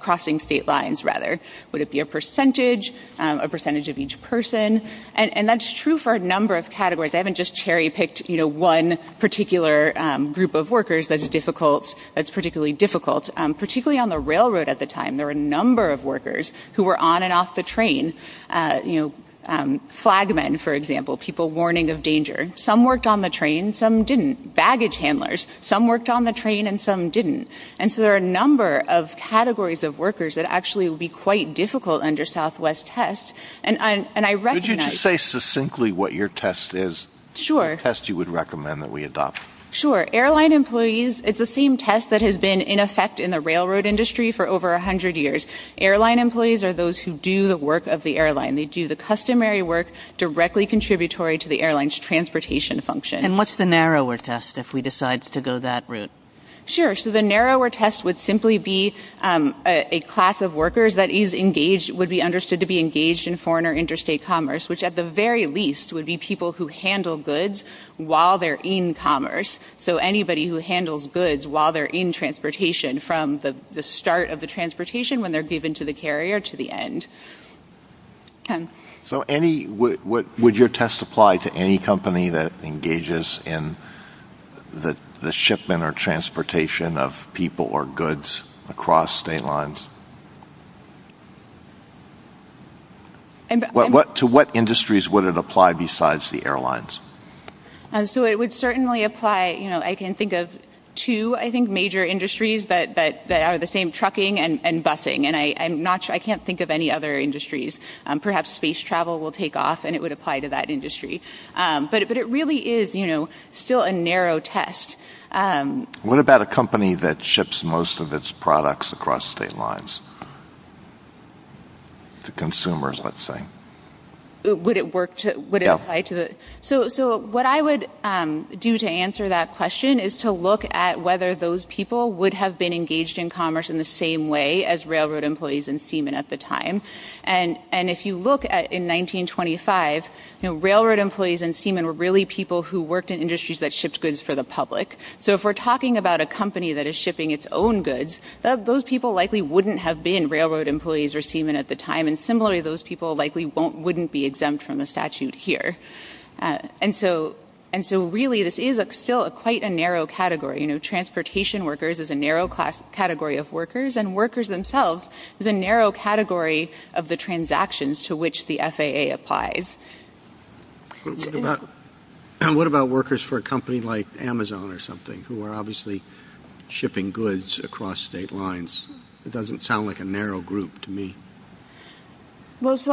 crossing state lines, rather. Would it be a percentage? A percentage of each person? And that's true for a number of categories. I haven't just cherry-picked one particular group of workers that's difficult, that's particularly difficult. Particularly on the railroad at the time, there were a number of workers who were on and off the train. Flagmen, for example, people warning of danger. Some worked on the train, some didn't. Baggage handlers. Some worked on the train and some didn't. And so there are a number of categories of workers that actually would be quite difficult under Southwest tests. And I recognize... Could you just say succinctly what your test is? Sure. The test you would recommend that we adopt. Sure. Airline employees, it's the same test that has been in effect in the railroad industry for over 100 years. Airline employees are those who do the work of the airline. They do the customary work directly contributory to the airline's transportation function. And what's the narrower test if we decide to go that route? Sure. So the narrower test would simply be a class of workers that is engaged, would be understood to be engaged in foreign or interstate commerce, which at the very least would be people who handle goods while they're in commerce. So anybody who handles goods while they're in transportation from the start of the transportation when they're given to the carrier to the end. So would your test apply to any company that engages in the shipment or transportation of people or goods across state lines? To what industries would it apply besides the airlines? So it would certainly apply. I can think of two, I think, major industries that are the same, trucking and busing. And I can't think of any other industries. Perhaps space travel will take off and it would apply to that industry. But it really is still a narrow test. What about a company that ships most of its products across state lines? To consumers, let's say. Would it apply to the? So what I would do to answer that question is to look at whether those people would have been engaged in commerce in the same way as railroad employees and seamen at the time. And if you look at in 1925, railroad employees and seamen were really people who worked in industries that shipped goods for the public. So if we're talking about a company that is shipping its own goods, those people likely wouldn't have been railroad employees or seamen at the time. And similarly, those people likely wouldn't be exempt from a statute here. And so really this is still quite a narrow category. Transportation workers is a narrow category of workers. And workers themselves is a narrow category of the transactions to which the FAA applies. What about workers for a company like Amazon or something who are obviously shipping goods across state lines? It doesn't sound like a narrow group to me. Well, so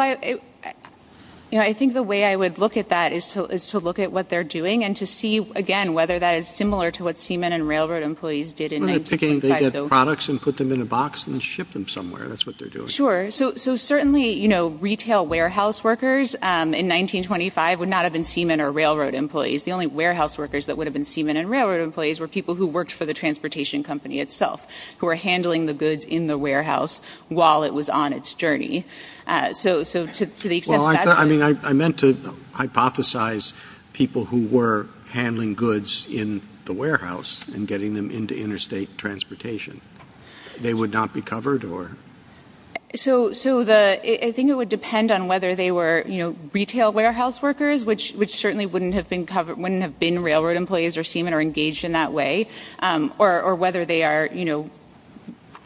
I think the way I would look at that is to look at what they're doing and to see, again, whether that is similar to what seamen and railroad employees did in 1925. They get products and put them in a box and ship them somewhere. That's what they're doing. Sure. So certainly retail warehouse workers in 1925 would not have been seamen or railroad employees. The only warehouse workers that would have been seamen and railroad employees were people who worked for the transportation company itself, who were handling the goods in the warehouse while it was on its journey. So to the extent that's. Well, I mean, I meant to hypothesize people who were handling goods in the warehouse and getting them into interstate transportation. They would not be covered or. So I think it would depend on whether they were, you know, retail warehouse workers, which certainly wouldn't have been covered, wouldn't have been railroad employees or seamen or engaged in that way, or whether they are, you know,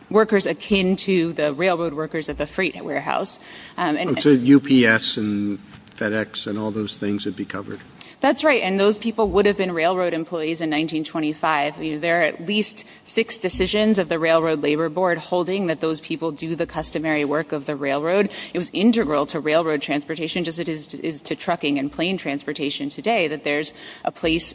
workers akin to the railroad workers at the freight warehouse. UPS and FedEx and all those things would be covered. That's right. And those people would have been railroad employees in 1925. There are at least six decisions of the railroad labor board holding that those people do the customary work of the railroad. It was integral to railroad transportation, just as it is to trucking and plane transportation today, that there's a place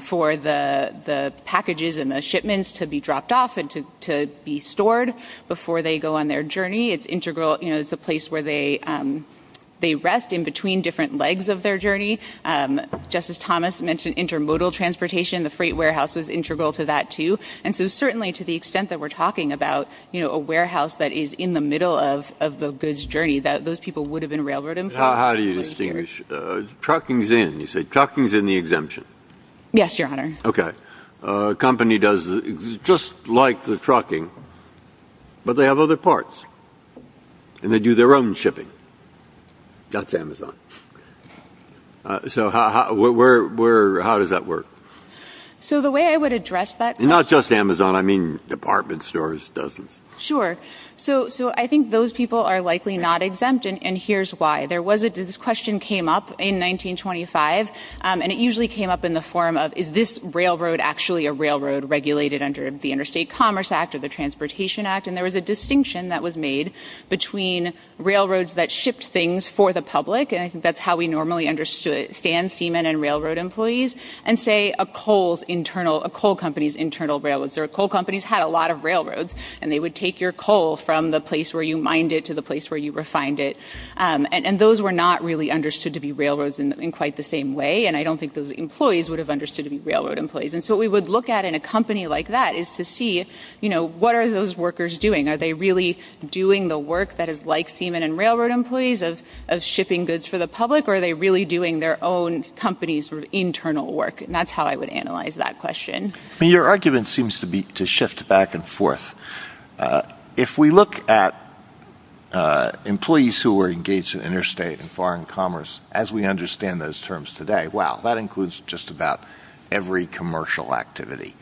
for the, the packages and the shipments to be dropped off and to, to be stored before they go on their journey. It's integral. You know, it's a place where they they rest in between different legs of their journey. Justice Thomas mentioned intermodal transportation. The freight warehouse was integral to that too. And so certainly to the extent that we're talking about, you know, a warehouse that is in the middle of, of the goods journey that those people would have been railroad employees. How do you distinguish truckings in you say truckings in the exemption? Yes, your Honor. Okay. A company does just like the trucking, but they have other parts and they do their own shipping. That's Amazon. So how, where, where, how does that work? So the way I would address that, not just Amazon, I mean, department stores, dozens. Sure. So, so I think those people are likely not exempt. And here's why there was a, this question came up in 1925. And it usually came up in the form of, is this railroad actually a railroad regulated under the interstate commerce act or the transportation act? And there was a distinction that was made between railroads that shipped things for the public. And I think that's how we normally understood it. Stan Seaman and railroad employees and say a coal's internal, a coal companies, internal railroads or coal companies had a lot of railroads and they would take your coal from the place where you mind it to the place where you refined it. And those were not really understood to be railroads in quite the same way. And I don't think those employees would have understood to be railroad employees. And so we would look at in a company like that is to see, you know, what are those workers doing? Are they really doing the work that is like Seaman and railroad employees of, of shipping goods for the public, or are they really doing their own companies for internal work? And that's how I would analyze that question. I mean, your argument seems to be to shift back and forth. Uh, if we look at, uh, employees who were engaged in interstate and foreign commerce, as we understand those terms today, wow, that includes just about every commercial activity.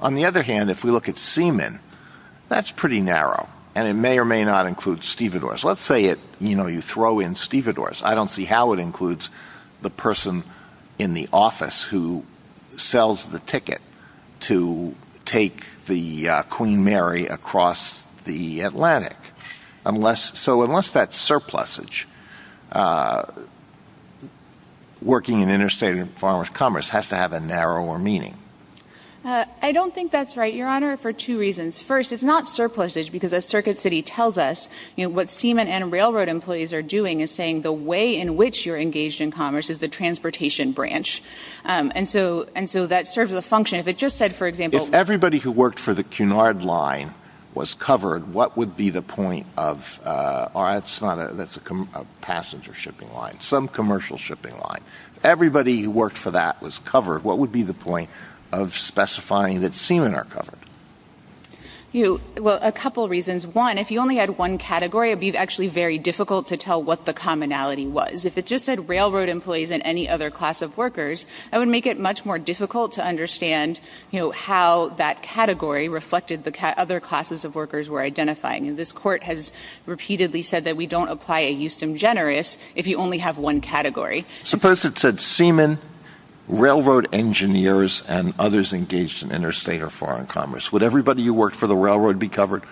On the other hand, if we look at Seaman, that's pretty narrow and it may or may not include stevedores. Let's say it, you know, you throw in stevedores. I don't see how it includes the person in the office who sells the ticket. To take the, uh, Queen Mary across the Atlantic. I'm less. So unless that surplus age, uh, working in interstate and foreign commerce has to have a narrower meaning. Uh, I don't think that's right. Your honor, for two reasons. First, it's not surpluses because a circuit city tells us what Seaman and railroad employees are doing is saying the way in which you're engaged in commerce is the transportation branch. Um, and so, and so that serves as a function. If it just said, for example, everybody who worked for the Cunard line was covered, what would be the point of, uh, or it's not a, that's a passenger shipping line, some commercial shipping line. Everybody who worked for that was covered. What would be the point of specifying that Seaman are covered? You, well, a couple of reasons. One, if you only had one category, it'd be actually very difficult to tell what the commonality was. If it just said railroad employees and any other class of workers, I would make it much more difficult to understand, you know, how that category reflected the cat. Other classes of workers were identifying. And this court has repeatedly said that we don't apply a Houston generous. If you only have one category, suppose it said Seaman railroad engineers and others engaged in interstate or foreign commerce, would everybody who worked for the railroad be covered?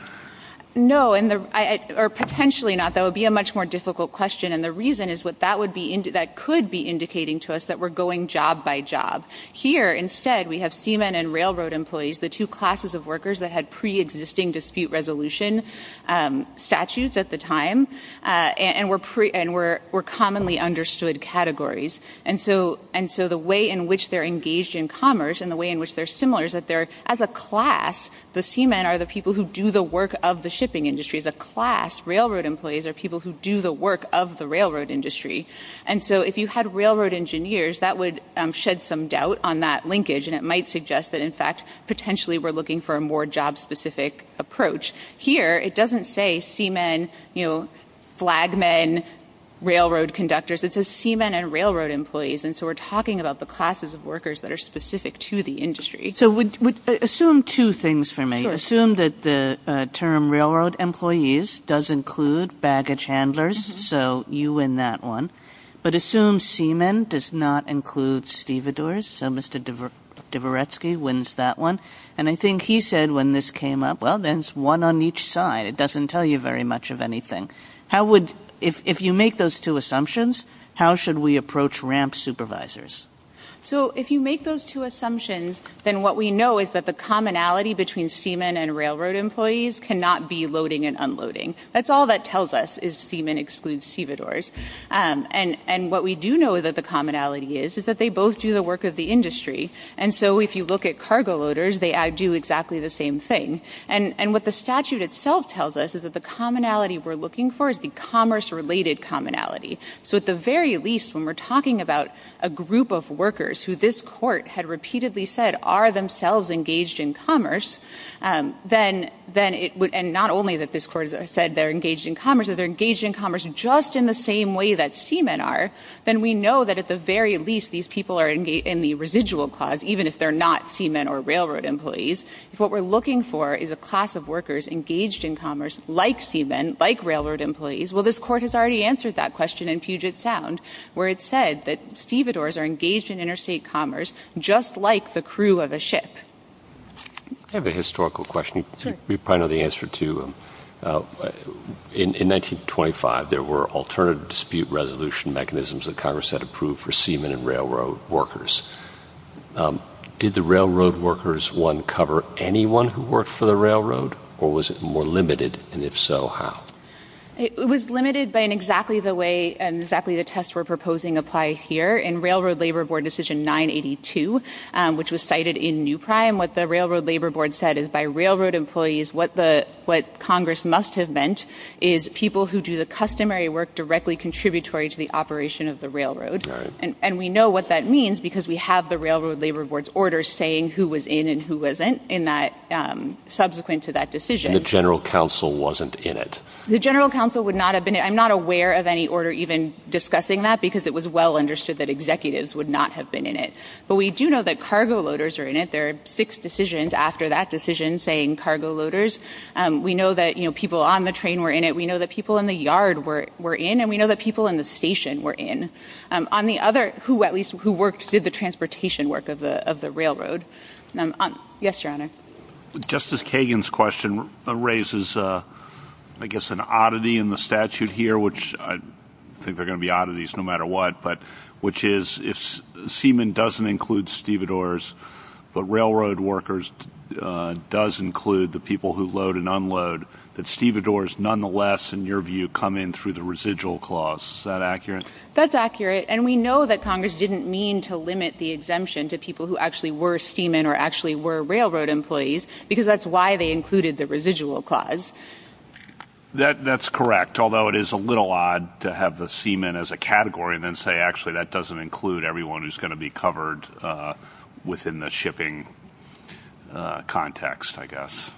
No. And the, I, or potentially not, that would be a much more difficult question. And the reason is what that would be into that could be indicating to us that we're going job by job here. Instead, we have Seaman and railroad employees, the two classes of workers that had preexisting dispute resolution, um, statutes at the time, uh, and we're pre and we're, we're commonly understood categories. And so, and so the way in which they're engaged in commerce and the way in which they're similar is that there, as a class, the Seaman are the people who do the work of the shipping industry is a class. Railroad employees are people who do the work of the railroad industry. And so if you had railroad engineers, that would shed some doubt on that linkage. And it might suggest that in fact, potentially we're looking for a more job specific approach here. It doesn't say Seaman, you know, flag men, railroad conductors, it's a Seaman and railroad employees. And so we're talking about the classes of workers that are specific to the industry. So we would assume two things for me assume that the term railroad employees does include baggage handlers. So you, in that one, but assume Seaman does not include Steve doors. So Mr. Devere, Deverecki wins that one. And I think he said when this came up, well, then it's one on each side. It doesn't tell you very much of anything. How would, if you make those two assumptions, how should we approach ramp supervisors? So if you make those two assumptions, then what we know is that the commonality between Seaman and railroad employees can not be loading and unloading. That's all that tells us is Seaman excludes Siva doors. And, and what we do know that the commonality is, is that they both do the work of the industry. And so if you look at cargo loaders, they do exactly the same thing. And, and what the statute itself tells us is that the commonality we're looking for is the commerce related commonality. So at the very least, when we're talking about a group of workers who this court had repeatedly said are themselves engaged in commerce, then, then it would. And not only that this court has said they're engaged in commerce or they're engaged in commerce, just in the same way that Seaman are, then we know that at the very least, these people are engaged in the residual clause, even if they're not Seaman or railroad employees. If what we're looking for is a class of workers engaged in commerce, like Seaman, like railroad employees. Well, this court has already answered that question in Puget sound, where it said that Steve doors are engaged in interstate commerce, just like the crew of a ship. I have a historical question. We probably know the answer to in, in 1925, there were alternative dispute resolution mechanisms that Congress had approved for Seaman and railroad workers. Did the railroad workers, one cover anyone who worked for the railroad or was it more limited? And if so, how it was limited by an exactly the way, and exactly the tests we're proposing apply here in railroad labor board decision nine 82, which was cited in new prime. What the railroad labor board said is by railroad employees, what the, what Congress must have meant is people who do the customary work, directly contributory to the operation of the railroad. And we know what that means because we have the railroad labor boards orders saying who was in and who wasn't in that subsequent to that decision. The general council wasn't in it. The general council would not have been. I'm not aware of any order, even discussing that because it was well understood that executives would not have been in it, but we do know that cargo loaders are in it. There are six decisions after that decision saying cargo loaders. We know that, you know, people on the train were in it. We know that people in the yard were, were in, and we know that people in the station were in on the other, who, at least who worked, did the transportation work of the, of the railroad. Yes, your Honor. Justice Kagan's question raises, I guess, an oddity in the statute here, which I think they're going to be oddities no matter what, but which is if semen doesn't include stevedores, but railroad workers does include the people who load and unload that stevedores, nonetheless, in your view, come in through the residual clause. Is that accurate? That's accurate. And we know that Congress didn't mean to limit the exemption to people who actually were steaming or actually were railroad employees, because that's why they included the residual clause. That that's correct. Although it is a little odd to have the semen as a category and then say, actually, that doesn't include everyone who's going to be covered, uh, within the shipping, uh, context, I guess.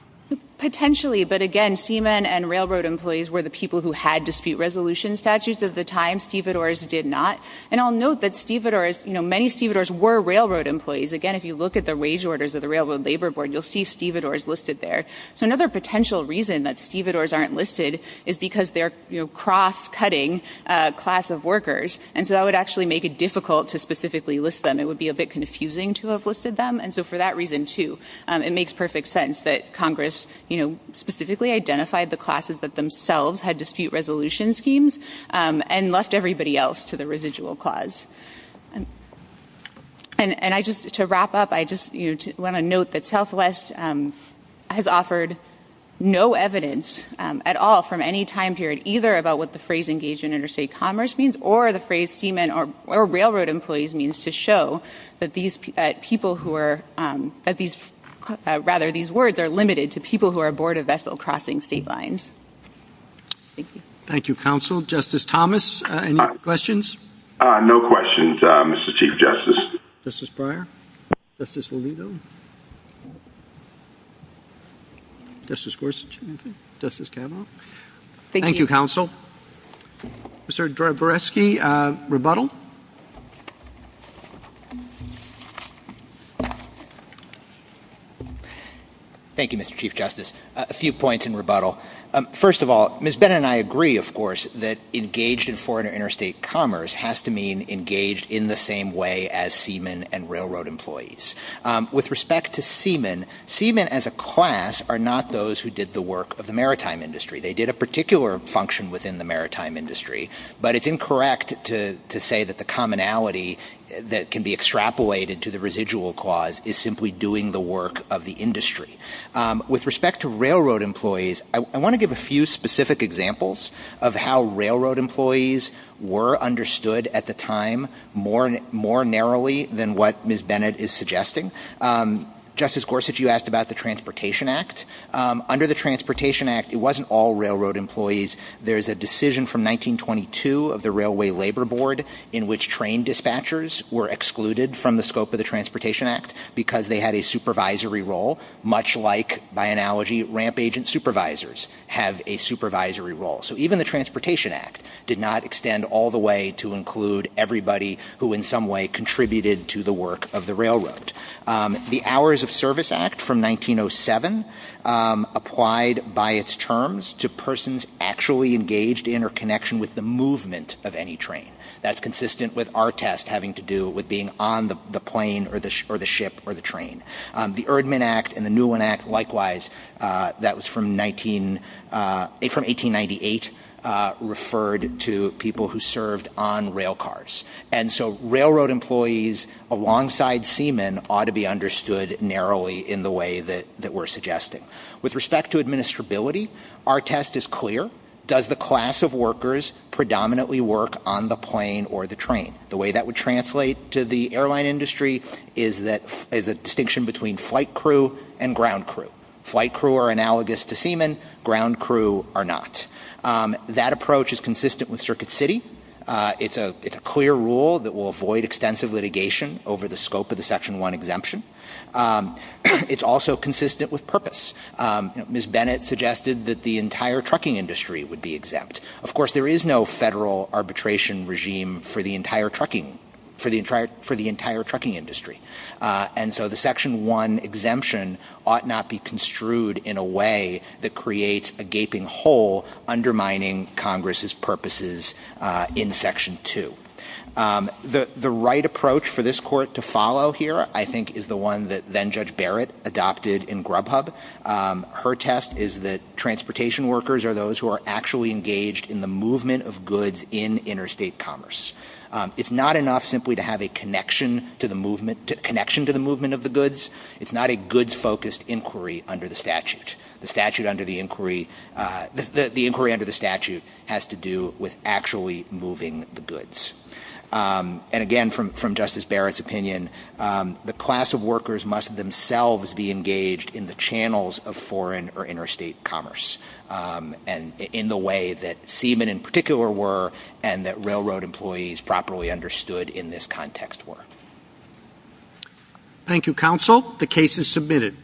Potentially. But again, semen and railroad employees were the people who had dispute resolution statutes of the time stevedores did not. And I'll note that stevedores, you know, many stevedores were railroad employees. Again, if you look at the wage orders of the railroad labor board, you'll see stevedores listed there. So another potential reason that stevedores aren't listed is because they're, you know, cross cutting a class of workers. And so that would actually make it difficult to specifically list them. It would be a bit confusing to have listed them. And so for that reason too, it makes perfect sense that Congress, you know, specifically identified the classes that themselves had dispute resolution schemes, um, and left everybody else to the residual clause. And, and I just, to wrap up, I just, you know, want to note that Southwest, um, has offered no evidence, um, at all from any time period, either about what the phrase engaged in interstate commerce means or the phrase seaman or railroad employees means to show that these people who are, um, that these, rather these words are limited to people who are aboard a vessel crossing state lines. Thank you. Thank you, counsel. Justice Thomas, any questions? Uh, no questions. Um, Mr. Chief Justice. Justice Breyer. Justice Lolito. Justice Gorsuch. Justice Kavanaugh. Thank you, counsel. Mr. Dabrowski, uh, rebuttal. Thank you, Mr. Chief Justice. A few points in rebuttal. Um, first of all, Ms. Bennett and I agree, of course, that engaged in foreign or interstate commerce has to mean engaged in the same way as seaman and railroad employees. Um, with respect to seaman, seaman as a class are not those who did the work of the maritime industry. They did a particular function within the maritime industry, but it's incorrect to, to say that the commonality that can be extrapolated to the residual cause is simply doing the work of the industry. Um, with respect to railroad employees, I want to give a few specific examples of how railroad employees were understood at the time more, more narrowly than what Ms. Bennett is suggesting. Um, Justice Gorsuch, you asked about the transportation act, um, under the transportation act, it wasn't all railroad employees. There's a decision from 1922 of the railway labor board in which train dispatchers were excluded from the scope of the transportation act because they had a supervisory role, much like by analogy, ramp agent supervisors have a supervisory role. So even the transportation act did not extend all the way to include everybody who in some way contributed to the work of the railroad. Um, the hours of service act from 1907, um, applied by its terms to persons actually engaged in or connection with the movement of any train. That's consistent with our test having to do with being on the plane or the, or the ship or the train. Um, the Erdman act and the new one act likewise, uh, that was from 19, uh, from 1898, uh, referred to people who served on rail cars. And so railroad employees alongside seamen ought to be understood narrowly in the way that, that we're suggesting with respect to administrability. Our test is clear. Does the class of workers predominantly work on the plane or the train? The way that would translate to the airline industry is that is a distinction between flight crew and ground crew. Flight crew are analogous to seamen ground crew are not. Um, that approach is consistent with circuit city. Uh, it's a, it's a clear rule that will avoid extensive litigation over the scope of the section one exemption. Um, it's also consistent with purpose. Um, Ms. Bennett suggested that the entire trucking industry would be exempt. Of course, there is no federal arbitration regime for the entire trucking, for the entire, for the entire trucking industry. Uh, and so the section one exemption ought not be construed in a way that creates a gaping hole undermining Congress's purposes, uh, in section two. Um, the, the right approach for this court to follow here, I think, is the one that then judge Barrett adopted in Grubhub. Um, her test is that transportation workers are those who are actually engaged in the movement of goods in interstate commerce. Um, it's not enough simply to have a connection to the movement, connection to the movement of the goods. It's not a goods focused inquiry under the statute. The statute under the inquiry, uh, the inquiry under the statute has to do with actually moving the goods. Um, and again, from, from Justice Barrett's opinion, um, the class of workers must themselves be engaged in the channels of foreign or interstate commerce. Um, and in the way that seamen in particular were and that railroad employees properly understood in this context were. Thank you, counsel. The case is submitted.